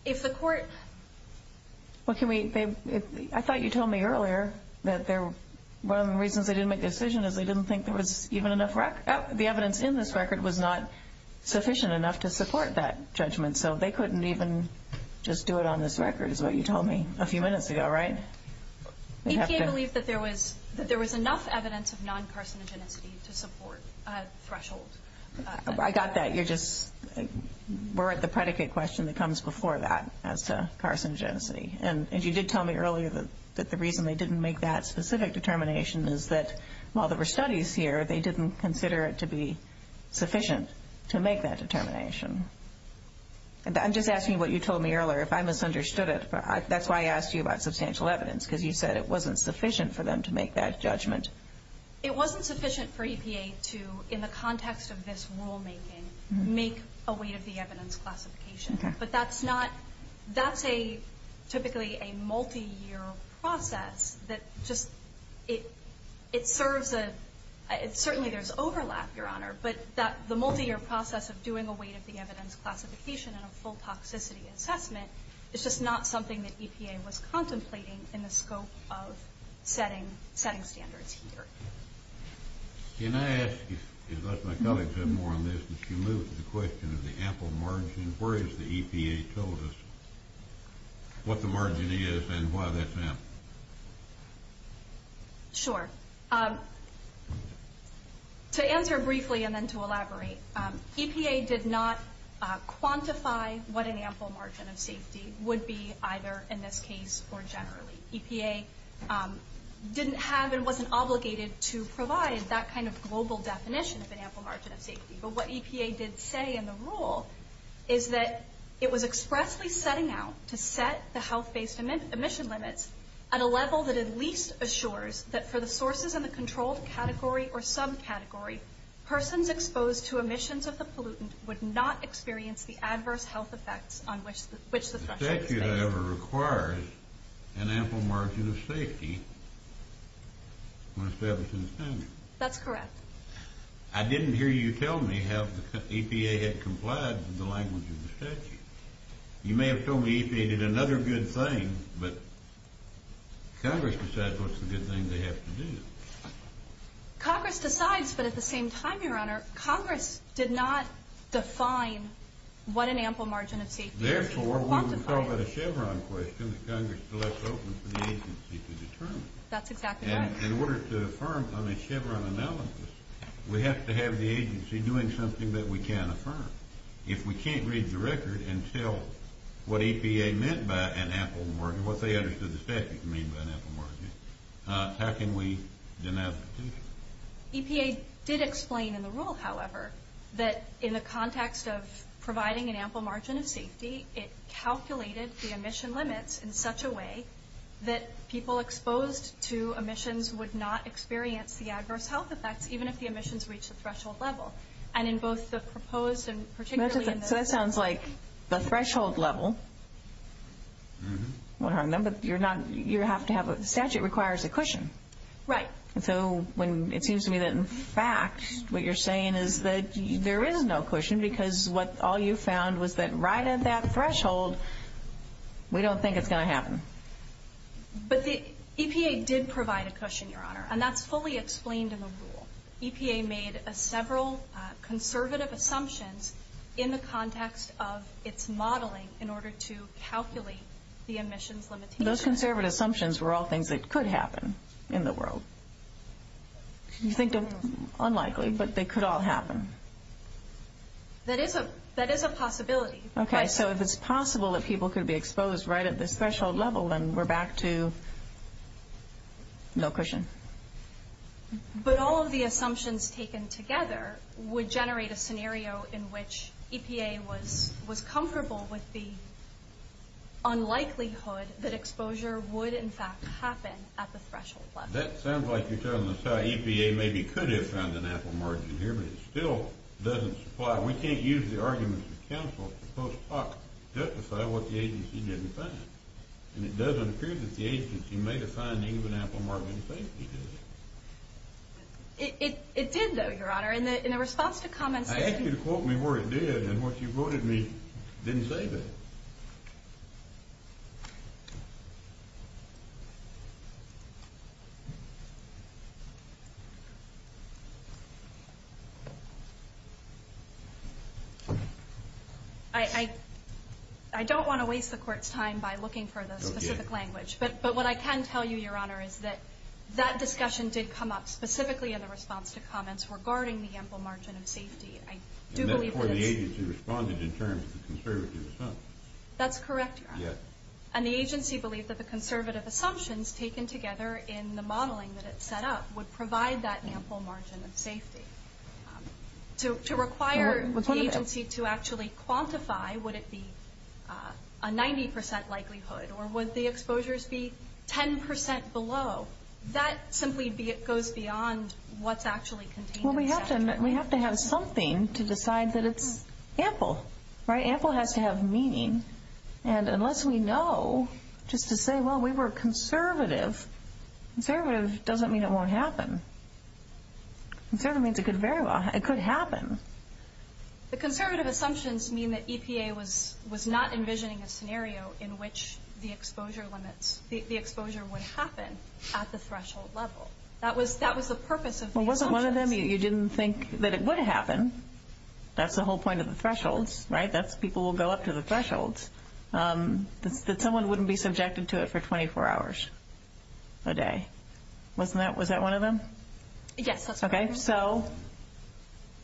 If the court... I thought you told me earlier that one of the reasons they didn't make the decision is they didn't think the evidence in this record was not sufficient enough to support that judgment, so they couldn't even just do it on this record is what you told me a few minutes ago, right? EPA believed that there was enough evidence of non-carcinogenicity to support threshold. I got that. You're just...we're at the predicate question that comes before that as to carcinogenicity. And you did tell me earlier that the reason they didn't make that specific determination is that while there were studies here, they didn't consider it to be sufficient to make that determination. I'm just asking what you told me earlier. If I misunderstood it, that's why I asked you about substantial evidence because you said it wasn't sufficient for them to make that judgment. It wasn't sufficient for EPA to, in the context of this rulemaking, make a weight-of-the-evidence classification. Okay. But that's not...that's typically a multi-year process that just...it serves a... certainly there's overlap, Your Honor, but the multi-year process of doing a weight-of-the-evidence classification and a full toxicity assessment is just not something that EPA was contemplating in the scope of setting standards here. Can I ask, unless my colleagues have more on this, if you move to the question of the ample margin, where is the EPA told us what the margin is and why that's ample? Sure. To answer briefly and then to elaborate, EPA did not quantify what an ample margin of safety would be, either in this case or generally. EPA didn't have and wasn't obligated to provide that kind of global definition of an ample margin of safety. But what EPA did say in the rule is that it was expressly setting out to set the health-based emission limits at a level that at least assures that for the sources in the controlled category or subcategory, persons exposed to emissions of the pollutant would not experience the adverse health effects on which the threshold is based. The statute, however, requires an ample margin of safety when establishing standards. That's correct. I didn't hear you tell me how EPA had complied with the language of the statute. You may have told me EPA did another good thing, but Congress decides what's the good thing they have to do. Congress decides, but at the same time, Your Honor, Congress did not define what an ample margin of safety is. Therefore, when we call that a Chevron question, Congress left open for the agency to determine. That's exactly right. In order to affirm on a Chevron analysis, we have to have the agency doing something that we can affirm. If we can't read the record and tell what EPA meant by an ample margin, what they understood the statute to mean by an ample margin, how can we denounce it? EPA did explain in the rule, however, that in the context of providing an ample margin of safety, it calculated the emission limits in such a way that people exposed to emissions would not experience the adverse health effects, even if the emissions reached the threshold level. And in both the proposed and particularly in the- So that sounds like the threshold level. But you have to have a statute that requires a cushion. Right. So it seems to me that in fact what you're saying is that there is no cushion because all you found was that right at that threshold, we don't think it's going to happen. But the EPA did provide a cushion, Your Honor, and that's fully explained in the rule. EPA made several conservative assumptions in the context of its modeling in order to calculate the emissions limitations. Those conservative assumptions were all things that could happen in the world. You think they're unlikely, but they could all happen. That is a possibility. Okay. So if it's possible that people could be exposed right at this threshold level, then we're back to no cushion. But all of the assumptions taken together would generate a scenario in which EPA was comfortable with the unlikelihood that exposure would, in fact, happen at the threshold level. That sounds like you're telling us how EPA maybe could have found an apple margin here, but it still doesn't supply. We can't use the arguments of counsel to post hoc justify what the agency didn't find. And it doesn't appear that the agency made a finding of an apple margin in safety, does it? It did, though, Your Honor. I asked you to quote me where it did, and what you quoted me didn't say that. I don't want to waste the Court's time by looking for the specific language, but what I can tell you, Your Honor, is that that discussion did come up specifically in the response to comments regarding the apple margin of safety. I do believe it is. And therefore, the agency responded in terms of the conservative assumption. That's correct, Your Honor. Yes. And the agency believed that the conservative assumptions taken together in the modeling that it set up would provide that apple margin of safety. To require the agency to actually quantify, would it be a 90 percent likelihood, or would the exposures be 10 percent below? That simply goes beyond what's actually contained in the statute. Well, we have to have something to decide that it's ample, right? Ample has to have meaning. And unless we know, just to say, well, we were conservative, conservative doesn't mean it won't happen. Conservative means it could happen. The conservative assumptions mean that EPA was not envisioning a scenario in which the exposure limits, the exposure would happen at the threshold level. That was the purpose of the assumptions. Well, wasn't one of them you didn't think that it would happen? That's the whole point of the thresholds, right? People will go up to the thresholds. That someone wouldn't be subjected to it for 24 hours a day. Wasn't that one of them? Yes, that's one of them. Okay, so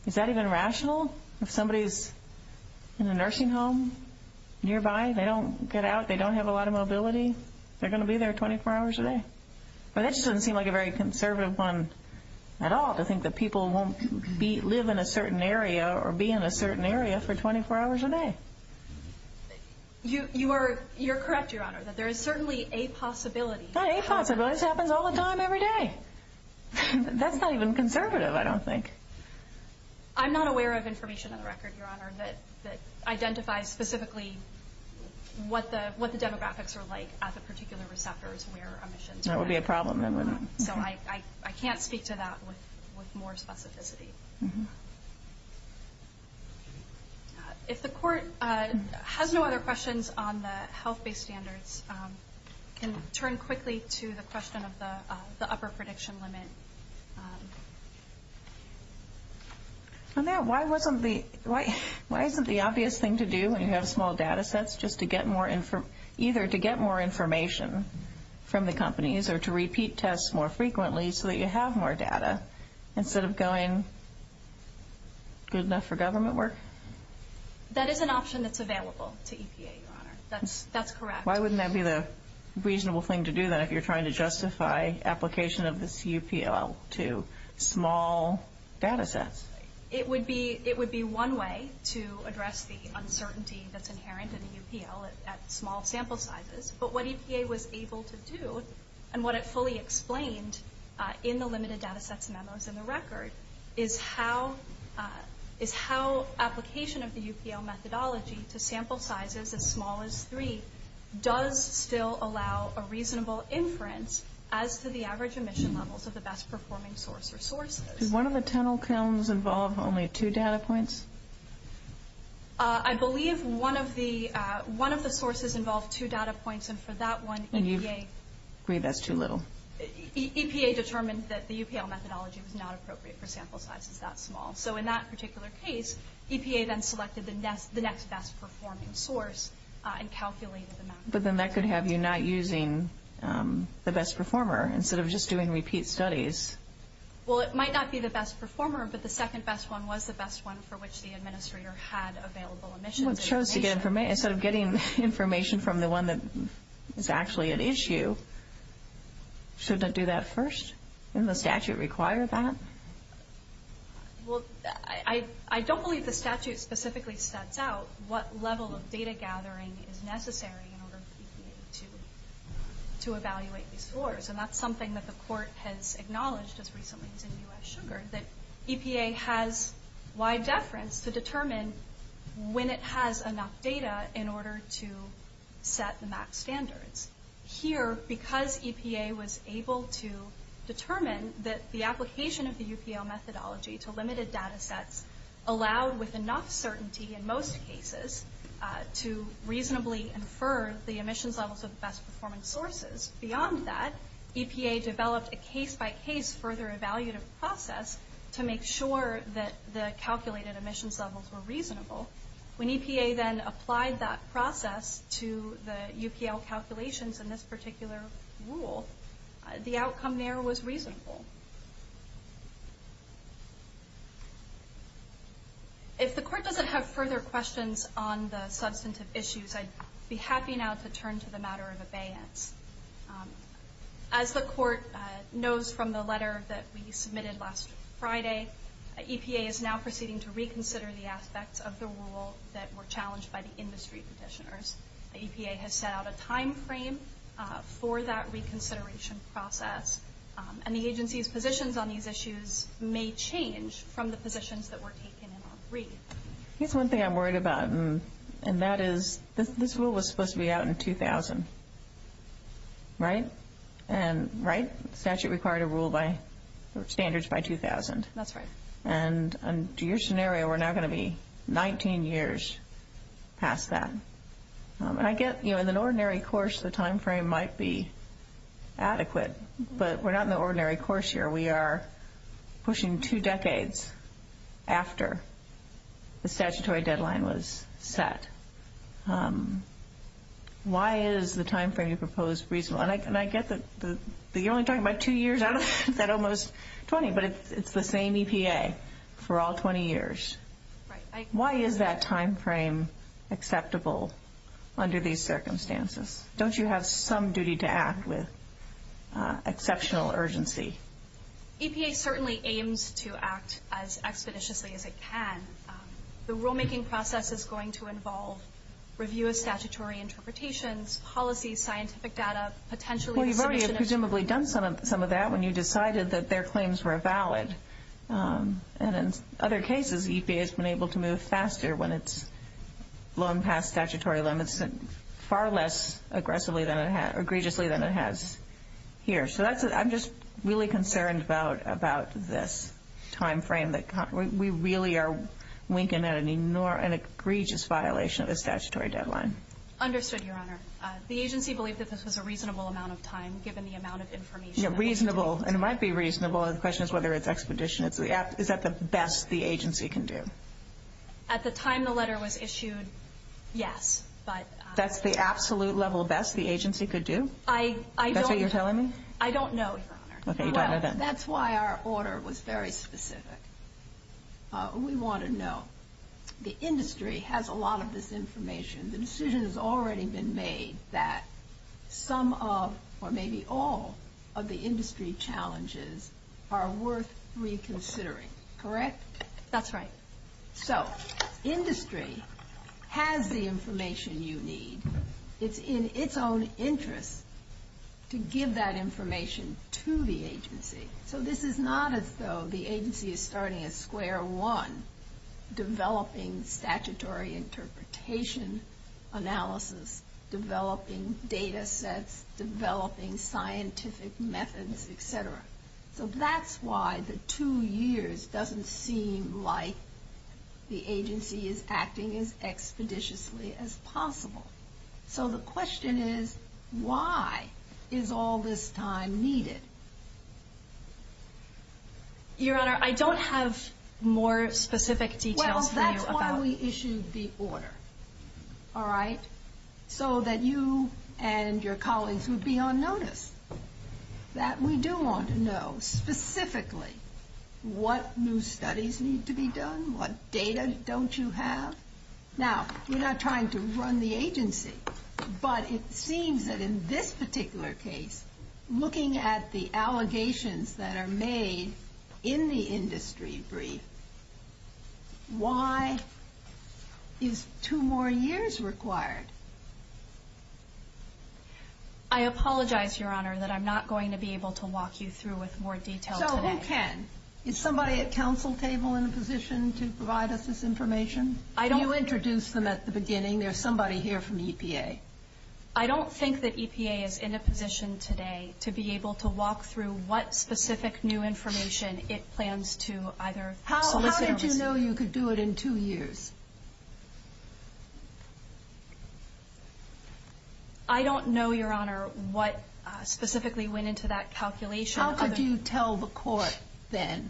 is that even rational? If somebody's in a nursing home nearby, they don't get out, they don't have a lot of mobility, they're going to be there 24 hours a day. Well, that just doesn't seem like a very conservative one at all to think that people won't live in a certain area or be in a certain area for 24 hours a day. You're correct, Your Honor, that there is certainly a possibility. Not a possibility. This happens all the time every day. That's not even conservative, I don't think. I'm not aware of information on the record, Your Honor, that identifies specifically what the demographics are like at the particular receptors where emissions occur. That would be a problem. So I can't speak to that with more specificity. If the Court has no other questions on the health-based standards, I can turn quickly to the question of the upper prediction limit. Why isn't the obvious thing to do when you have small data sets just either to get more information from the companies or to repeat tests more frequently so that you have more data instead of going good enough for government work? That is an option that's available to EPA, Your Honor. That's correct. Why wouldn't that be the reasonable thing to do, then, if you're trying to justify application of this UPL to small data sets? It would be one way to address the uncertainty that's inherent in the UPL at small sample sizes. But what EPA was able to do and what it fully explained in the limited data sets memos in the record is how application of the UPL methodology to sample sizes as small as three does still allow a reasonable inference as to the average emission levels of the best-performing source or sources. Did one of the tunnel kilns involve only two data points? I believe one of the sources involved two data points, and for that one, EPA— And you agree that's too little? EPA determined that the UPL methodology was not appropriate for sample sizes that small. So in that particular case, EPA then selected the next best-performing source and calculated the amount— But then that could have you not using the best performer instead of just doing repeat studies. Well, it might not be the best performer, but the second best one was the best one for which the administrator had available emissions information. Instead of getting information from the one that is actually an issue, shouldn't it do that first? Doesn't the statute require that? Well, I don't believe the statute specifically sets out what level of data gathering is necessary in order for EPA to evaluate these scores. And that's something that the court has acknowledged as recently as in U.S. Sugar, that EPA has wide deference to determine when it has enough data in order to set the max standards. Here, because EPA was able to determine that the application of the UPL methodology to limited data sets allowed with enough certainty in most cases to reasonably infer the emissions levels of the best-performing sources. Beyond that, EPA developed a case-by-case further evaluative process to make sure that the calculated emissions levels were reasonable. When EPA then applied that process to the UPL calculations in this particular rule, the outcome there was reasonable. If the court doesn't have further questions on the substantive issues, I'd be happy now to turn to the matter of abeyance. As the court knows from the letter that we submitted last Friday, EPA is now proceeding to reconsider the aspects of the rule that were challenged by the industry petitioners. EPA has set out a timeframe for that reconsideration process. And the agency's positions on these issues may change from the positions that were taken in our brief. Here's one thing I'm worried about, and that is this rule was supposed to be out in 2000, right? And, right? The statute required a rule by standards by 2000. That's right. And under your scenario, we're now going to be 19 years past that. And I get, you know, in an ordinary course the timeframe might be adequate, but we're not in the ordinary course here. We are pushing two decades after the statutory deadline was set. Why is the timeframe you proposed reasonable? And I get that you're only talking about two years out of that almost 20, but it's the same EPA for all 20 years. Right. Why is that timeframe acceptable under these circumstances? Don't you have some duty to act with exceptional urgency? EPA certainly aims to act as expeditiously as it can. The rulemaking process is going to involve review of statutory interpretations, policy, scientific data, potentially the submission of Well, you've already presumably done some of that when you decided that their claims were valid. And in other cases, EPA has been able to move faster when it's flown past statutory limits far less aggressively than it has here. So I'm just really concerned about this timeframe. We really are winking at an egregious violation of the statutory deadline. Understood, Your Honor. The agency believed that this was a reasonable amount of time given the amount of information. Yeah, reasonable. And it might be reasonable. The question is whether it's expedition. Is that the best the agency can do? At the time the letter was issued, yes. That's the absolute level best the agency could do? That's what you're telling me? I don't know, Your Honor. Okay, you don't know then. That's why our order was very specific. We want to know. The industry has a lot of this information. The decision has already been made that some of or maybe all of the industry challenges are worth reconsidering, correct? That's right. So industry has the information you need. It's in its own interest to give that information to the agency. So this is not as though the agency is starting at square one, developing statutory interpretation analysis, developing data sets, developing scientific methods, et cetera. So that's why the two years doesn't seem like the agency is acting as expeditiously as possible. So the question is, why is all this time needed? Your Honor, I don't have more specific details for you. Well, that's why we issued the order, all right? So that you and your colleagues would be on notice. That we do want to know specifically what new studies need to be done, what data don't you have. Now, we're not trying to run the agency. But it seems that in this particular case, looking at the allegations that are made in the industry brief, why is two more years required? I apologize, Your Honor, that I'm not going to be able to walk you through with more detail today. So who can? Is somebody at counsel table in a position to provide us this information? You introduced them at the beginning. There's somebody here from EPA. I don't think that EPA is in a position today to be able to walk through what specific new information it plans to either solicit. How did you know you could do it in two years? I don't know, Your Honor, what specifically went into that calculation. How could you tell the court then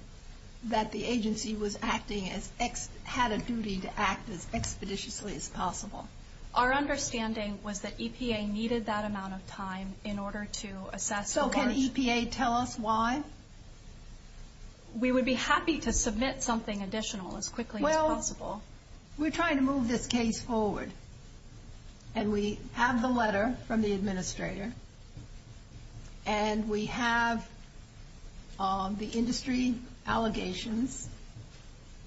that the agency had a duty to act as expeditiously as possible? Our understanding was that EPA needed that amount of time in order to assess the large... So can EPA tell us why? We would be happy to submit something additional as quickly as possible. Well, we're trying to move this case forward. And we have the letter from the administrator. And we have the industry allegations,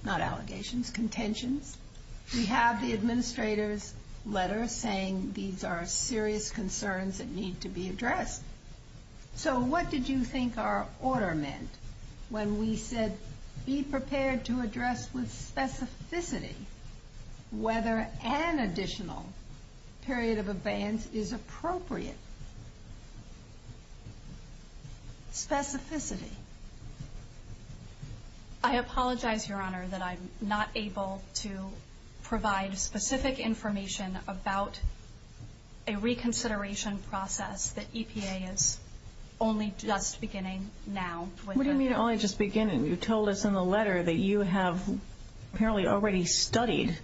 not allegations, contentions. We have the administrator's letter saying these are serious concerns that need to be addressed. So what did you think our order meant when we said be prepared to address with specificity whether an additional period of abeyance is appropriate? Specificity. I apologize, Your Honor, that I'm not able to provide specific information about a reconsideration process that EPA is only just beginning now. What do you mean only just beginning? You told us in the letter that you have apparently already studied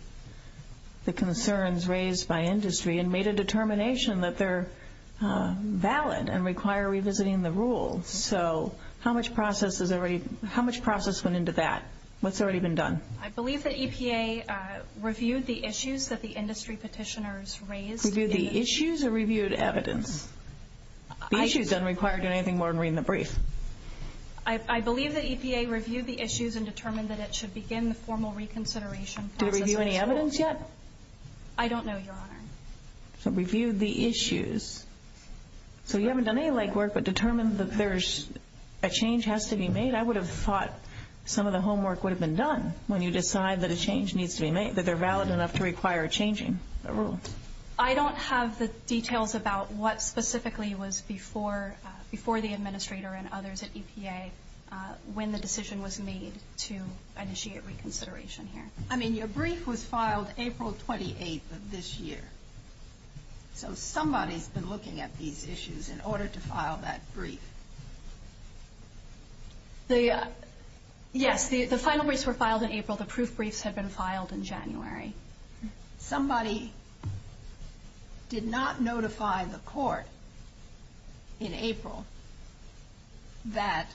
the concerns raised by industry and made a determination that they're valid and require revisiting the rules. So how much process went into that? What's already been done? I believe that EPA reviewed the issues that the industry petitioners raised. Reviewed the issues or reviewed evidence? The issues don't require doing anything more than reading the brief. I believe that EPA reviewed the issues and determined that it should begin the formal reconsideration process. Did it review any evidence yet? I don't know, Your Honor. So reviewed the issues. So you haven't done any legwork but determined that there's a change has to be made. I would have thought some of the homework would have been done when you decide that a change needs to be made, that they're valid enough to require changing the rules. I don't have the details about what specifically was before the administrator and others at EPA when the decision was made to initiate reconsideration here. I mean, your brief was filed April 28th of this year. So somebody's been looking at these issues in order to file that brief. Yes, the final briefs were filed in April. The proof briefs had been filed in January. Somebody did not notify the court in April that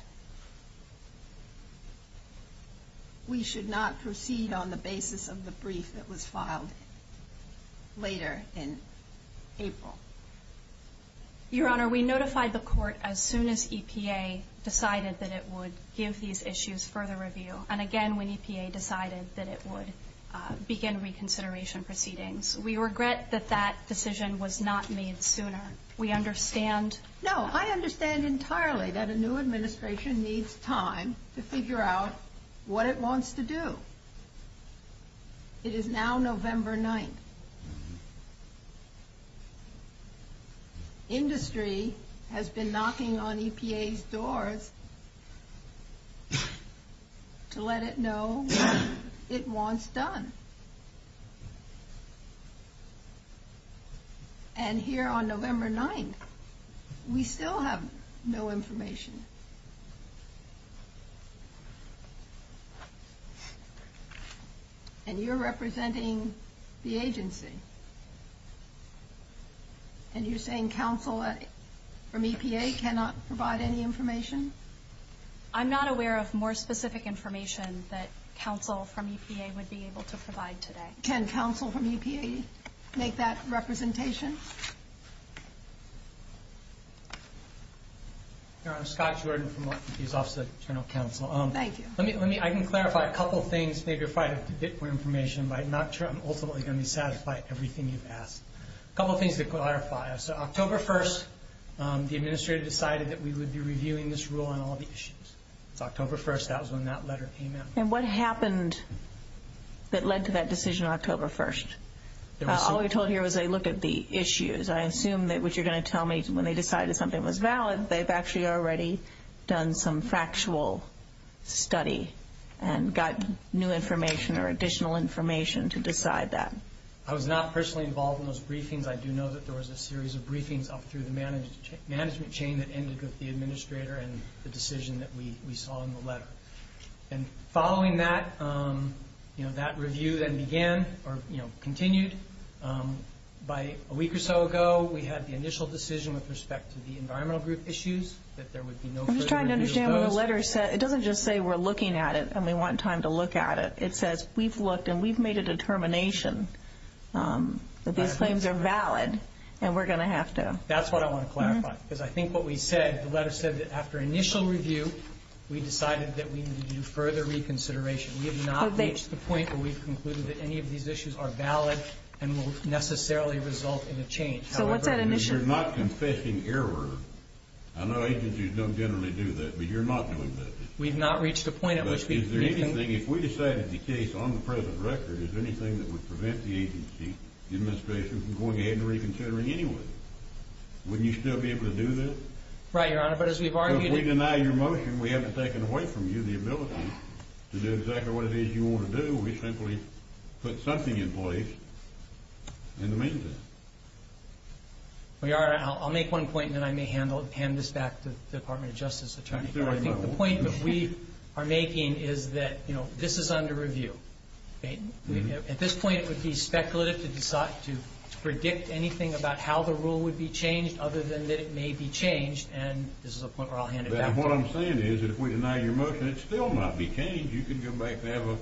we should not proceed on the basis of the brief that was filed later in April. Your Honor, we notified the court as soon as EPA decided that it would give these issues further review. And again, when EPA decided that it would begin reconsideration proceedings. We regret that that decision was not made sooner. We understand. No, I understand entirely that a new administration needs time to figure out what it wants to do. It is now November 9th. Industry has been knocking on EPA's doors to let it know what it wants done. And here on November 9th, we still have no information. And you're representing the agency. And you're saying counsel from EPA cannot provide any information? I'm not aware of more specific information that counsel from EPA would be able to provide today. Can counsel from EPA make that representation? Your Honor, I'm Scott Jordan from the Office of the Attorney General Counsel. Thank you. I can clarify a couple of things. I'm not sure I'm ultimately going to be satisfied with everything you've asked. A couple of things to clarify. So October 1st, the administrator decided that we would be reviewing this rule on all the issues. It's October 1st. That was when that letter came out. And what happened that led to that decision on October 1st? All we were told here was they looked at the issues. I assume that what you're going to tell me is when they decided something was valid, they've actually already done some factual study and got new information or additional information to decide that. I was not personally involved in those briefings. I do know that there was a series of briefings up through the management chain that ended with the administrator and the decision that we saw in the letter. And following that, that review then began or continued. A week or so ago, we had the initial decision with respect to the environmental group issues that there would be no further review of those. I'm just trying to understand what the letter said. It doesn't just say we're looking at it and we want time to look at it. It says we've looked and we've made a determination that these claims are valid and we're going to have to. That's what I want to clarify because I think what we said, the letter said that after initial review, we decided that we needed to do further reconsideration. We have not reached the point where we've concluded that any of these issues are valid and will necessarily result in a change. So what's that initial point? You're not confessing error. I know agencies don't generally do that, but you're not doing that. We've not reached a point at which we can. But is there anything, if we decided the case on the present record, is there anything that would prevent the agency, the administration, from going ahead and reconsidering anyway? Wouldn't you still be able to do that? Right, Your Honor. But as we've argued— If we deny your motion, we haven't taken away from you the ability to do exactly what it is you want to do. We simply put something in place in the meantime. Well, Your Honor, I'll make one point and then I may hand this back to the Department of Justice attorney. I think the point that we are making is that this is under review. At this point, it would be speculative to predict anything about how the rule would be changed other than that it may be changed, and this is a point where I'll hand it back to you. What I'm saying is that if we deny your motion, it would still not be changed. You could go back and have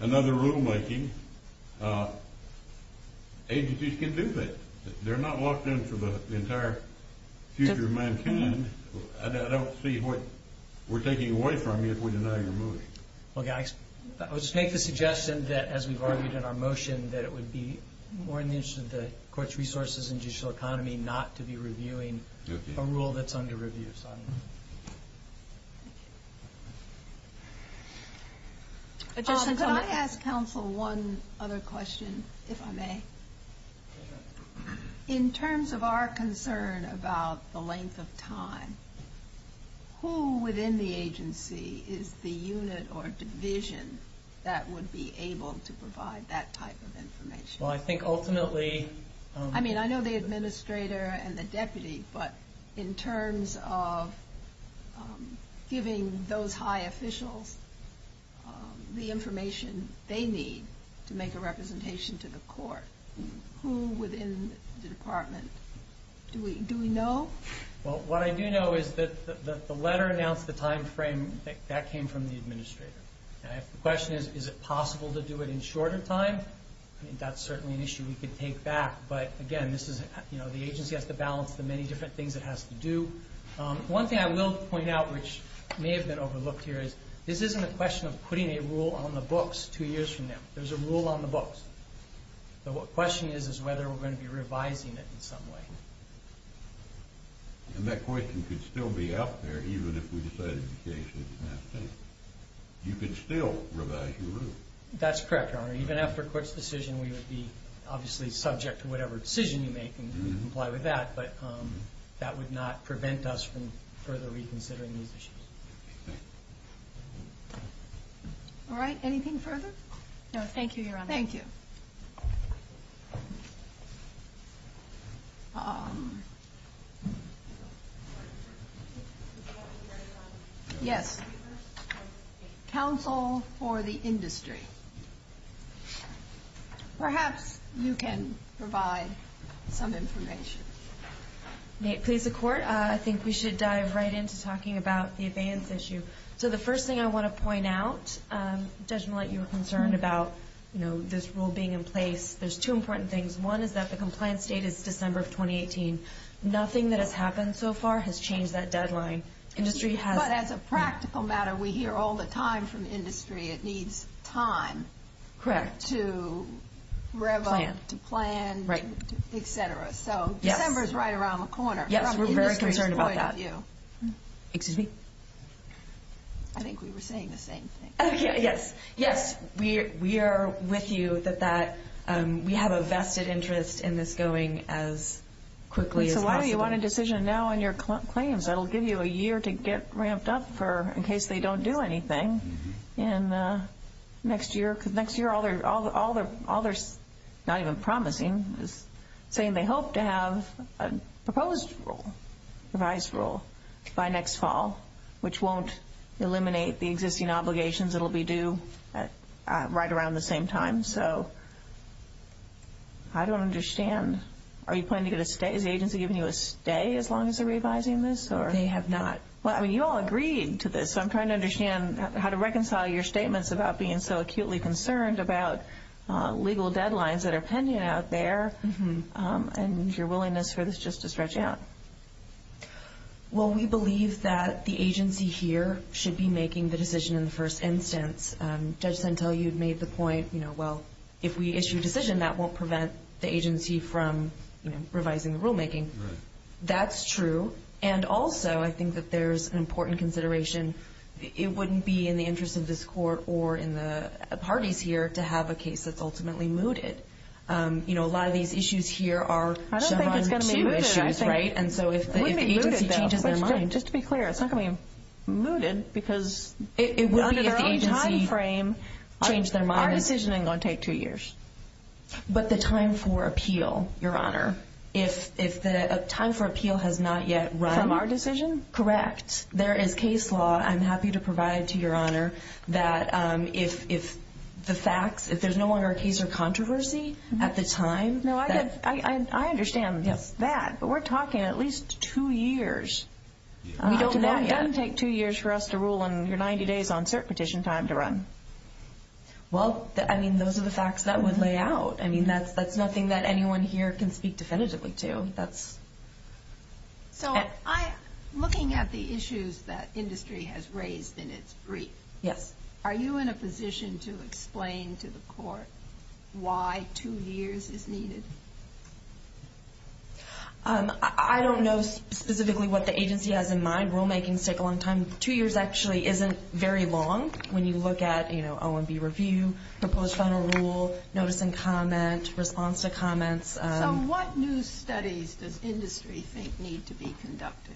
another rulemaking. Agencies can do that. They're not locked in for the entire future of mankind. I don't see what we're taking away from you if we deny your motion. Well, I would just make the suggestion that, as we've argued in our motion, that it would be more in the interest of the court's resources and judicial economy not to be reviewing a rule that's under review. Thank you. Could I ask counsel one other question, if I may? In terms of our concern about the length of time, who within the agency is the unit or division that would be able to provide that type of information? I know the administrator and the deputy, but in terms of giving those high officials the information they need to make a representation to the court, who within the department do we know? What I do know is that the letter announced the time frame that came from the administrator. The question is, is it possible to do it in shorter time? That's certainly an issue we could take back, but again, the agency has to balance the many different things it has to do. One thing I will point out, which may have been overlooked here, is this isn't a question of putting a rule on the books two years from now. There's a rule on the books. And that question could still be out there, even if we decided occasionally it didn't have to be. You could still revise your rule. That's correct, Your Honor. Even after a court's decision, we would be obviously subject to whatever decision you make and comply with that. But that would not prevent us from further reconsidering these issues. All right, anything further? No, thank you, Your Honor. Yes. Counsel for the industry. Perhaps you can provide some information. May it please the Court? I think we should dive right into talking about the abeyance issue. So the first thing I want to point out, Judge Millett, you were concerned about this rule being in place. There's two important things. One is that the compliance date is December of 2018. Nothing that has happened so far has changed that deadline. But as a practical matter, we hear all the time from industry it needs time to rev up, to plan, etc. So December's right around the corner. Yes, we're very concerned about that. I think we were saying the same thing. Yes, we are with you. We have a vested interest in this going as quickly as possible. So why do you want a decision now on your claims? That'll give you a year to get ramped up in case they don't do anything next year. Because next year, all they're not even promising is saying they hope to have a proposed rule, revised rule, by next fall, which won't eliminate the existing obligations. It'll be due right around the same time. So I don't understand. Are you planning to get a stay? Is the agency giving you a stay as long as they're revising this? They have not. Well, I mean, you all agreed to this. So I'm trying to understand how to reconcile your statements about being so acutely concerned about legal deadlines that are pending out there, and your willingness for this just to stretch out. Well, we believe that the agency here should be making the decision in the first instance. Judge Centell, you'd made the point, well, if we issue a decision, that won't prevent the agency from revising the rulemaking. That's true. And also, I think that there's an important consideration. It wouldn't be in the interest of this court or in the parties here to have a case that's ultimately mooted. You know, a lot of these issues here are Chevron 2 issues, right? I don't think it's going to be mooted. Well, there is a case law. I'm happy to provide to your honor that if the facts, if there's no longer a case or controversy at the time. No, I understand that. But we're talking at least two years. It doesn't take two years for us to rule on your 90 days on cert petition time to run. Well, I mean, those are the facts that would lay out. I mean, that's nothing that anyone here can speak definitively to. So I'm looking at the issues that industry has raised in its brief. Yes. Are you in a position to explain to the court why two years is needed? I don't know specifically what the agency has in mind. Rulemaking's take a long time. Two years actually isn't very long when you look at, you know, OMB review, proposed final rule, notice and comment, response to comments. So what new studies does industry think need to be conducted?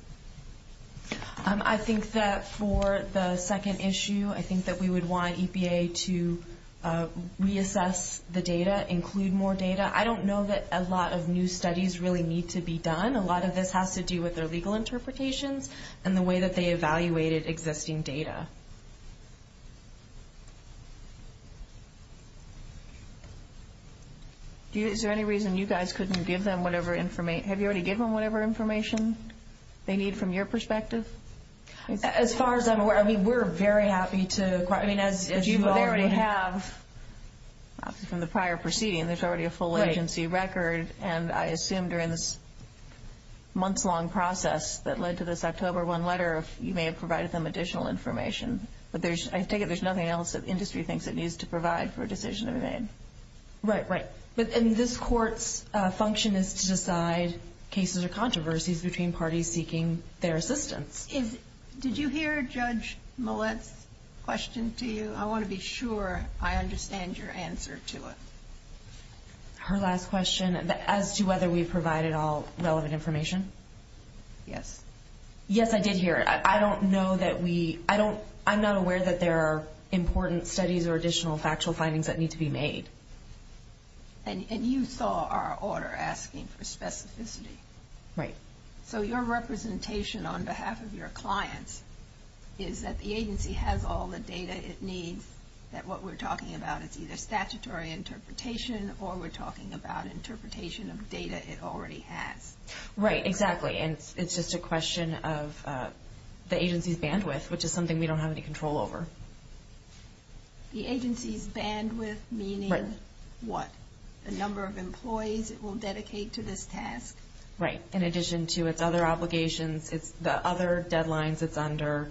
I think that for the second issue, I think that we would want EPA to reassess the data, include more data. I don't know that a lot of new studies really need to be done. A lot of this has to do with their legal interpretations and the way that they evaluated existing data. Is there any reason you guys couldn't give them whatever information they need from your perspective? As far as I'm aware, we're very happy to. I mean, as you already have from the prior proceeding, there's already a full agency record. And I assume during this months-long process that led to this October 1 letter, you may have provided them additional information. But I take it there's nothing else that industry thinks it needs to provide for a decision to be made. Right, right. And this court's function is to decide cases or controversies between parties seeking their assistance. And to you, I want to be sure I understand your answer to it. Her last question, as to whether we provided all relevant information? Yes. Yes, I did hear it. I'm not aware that there are important studies or additional factual findings that need to be made. And you saw our order asking for specificity. Right. So your representation on behalf of your clients is that the agency has all the data it needs. That what we're talking about is either statutory interpretation or we're talking about interpretation of data it already has. Right, exactly. And it's just a question of the agency's bandwidth, which is something we don't have any control over. The agency's bandwidth meaning what? The number of employees it will dedicate to this task? Right, in addition to its other obligations, the other deadlines it's under.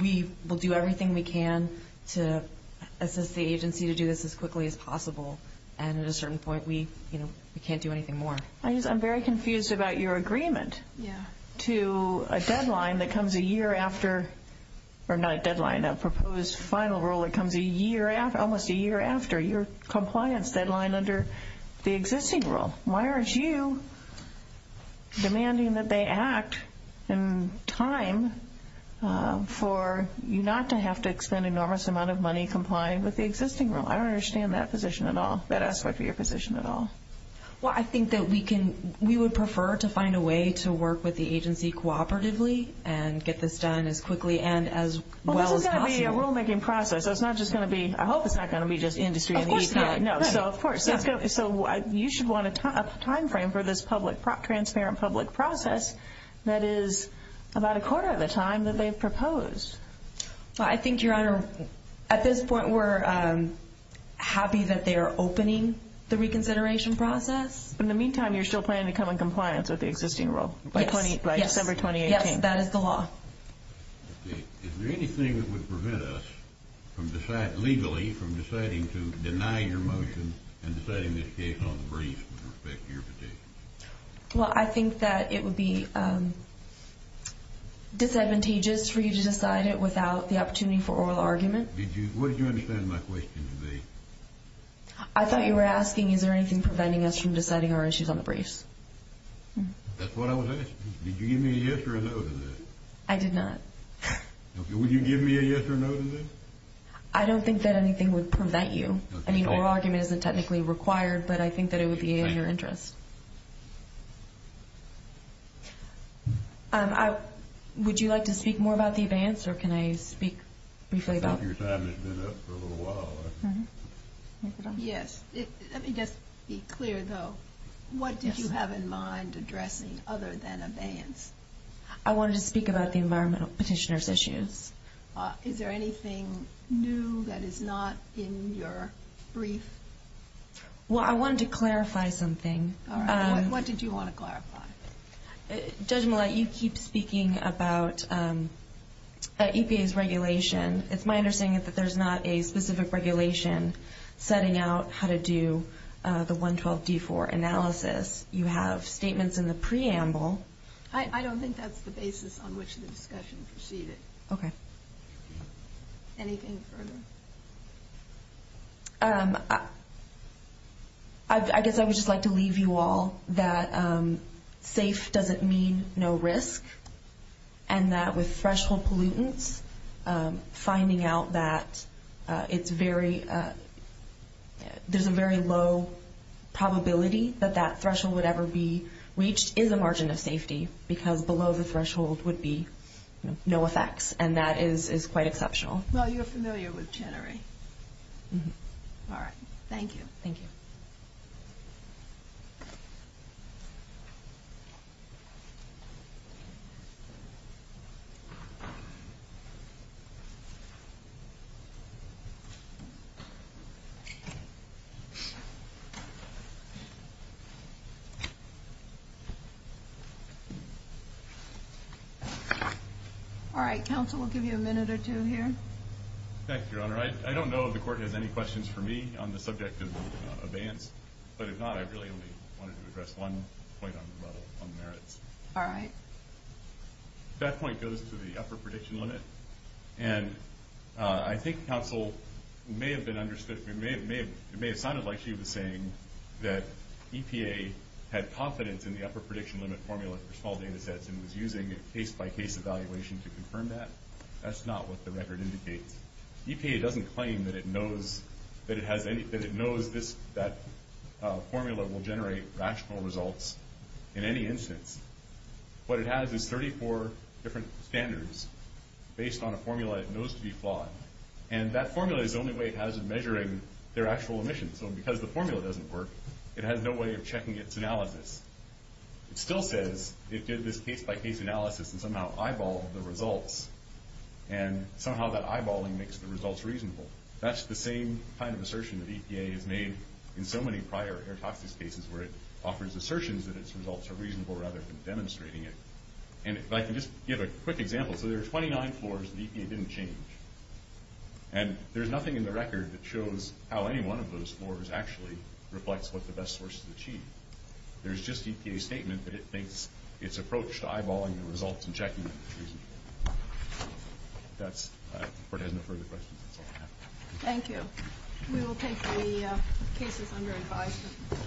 We will do everything we can to assist the agency to do this as quickly as possible. And at a certain point, we can't do anything more. I'm very confused about your agreement to a deadline that comes a year after or not a deadline, a proposed final rule that comes almost a year after your compliance deadline under the existing rule. Why aren't you demanding that they act in time for you not to have to expend an enormous amount of money complying with the existing rule? I don't understand that position at all, that aspect of your position at all. Well, I think that we would prefer to find a way to work with the agency cooperatively and get this done as quickly and as well as possible. Well, this is going to be a rulemaking process. I hope it's not going to be just industry. Of course not. You should want a time frame for this transparent public process that is about a quarter of the time that they've proposed. I think, Your Honor, at this point we're happy that they are opening the reconsideration process. In the meantime, you're still planning to come in compliance with the existing rule by December 2018? At this point, that is the law. Is there anything that would prevent us legally from deciding to deny your motion and deciding this case on the briefs with respect to your petition? Well, I think that it would be disadvantageous for you to decide it without the opportunity for oral argument. What did you understand my question to be? I thought you were asking is there anything preventing us from deciding our issues on the briefs? That's what I was asking. Did you give me a yes or a no to that? I did not. Would you give me a yes or a no to that? I don't think that anything would prevent you. I mean, oral argument isn't technically required, but I think that it would be in your interest. Would you like to speak more about the advance or can I speak briefly about it? Yes. Let me just be clear, though. What did you have in mind addressing other than advance? I wanted to speak about the environmental petitioner's issues. Is there anything new that is not in your brief? Well, I wanted to clarify something. What did you want to clarify? Judge Millett, you keep speaking about EPA's regulation. It's my understanding that there's not a specific regulation setting out how to do the 112-D4 analysis. You have statements in the preamble. I don't think that's the basis on which the discussion proceeded. Okay. Anything further? I guess I would just like to leave you all that safe doesn't mean no risk and that with threshold pollutants, finding out that it's very – there's a very low probability that that threshold would ever be reached is a margin of safety because below the threshold would be no effects, and that is quite exceptional. Well, you're familiar with January. All right. Thank you. Thank you. Thank you. All right. Counsel, we'll give you a minute or two here. Thank you, Your Honor. I don't know if the court has any questions for me on the subject of advance, but if not, I really only wanted to address one point on the merits. All right. That point goes to the upper prediction limit, and I think counsel may have been understood – it may have sounded like she was saying that EPA had confidence in the upper prediction limit formula for small data sets and was using a case-by-case evaluation to confirm that. That's not what the record indicates. EPA doesn't claim that it knows this – that formula will generate rational results in any instance. What it has is 34 different standards based on a formula it knows to be flawed, and that formula is the only way it has at measuring their actual emissions. So because the formula doesn't work, it has no way of checking its analysis. It still says it did this case-by-case analysis and somehow eyeballed the results, and somehow that eyeballing makes the results reasonable. That's the same kind of assertion that EPA has made in so many prior air toxics cases where it offers assertions that its results are reasonable rather than demonstrating it. And if I can just give a quick example. So there are 29 floors that EPA didn't change, and there's nothing in the record that shows how any one of those floors actually reflects what the best source has achieved. There's just EPA's statement that it thinks its approach to eyeballing the results and checking them is reasonable. If that's – if the Court has no further questions, that's all I have. Thank you. We will take the cases under advisement.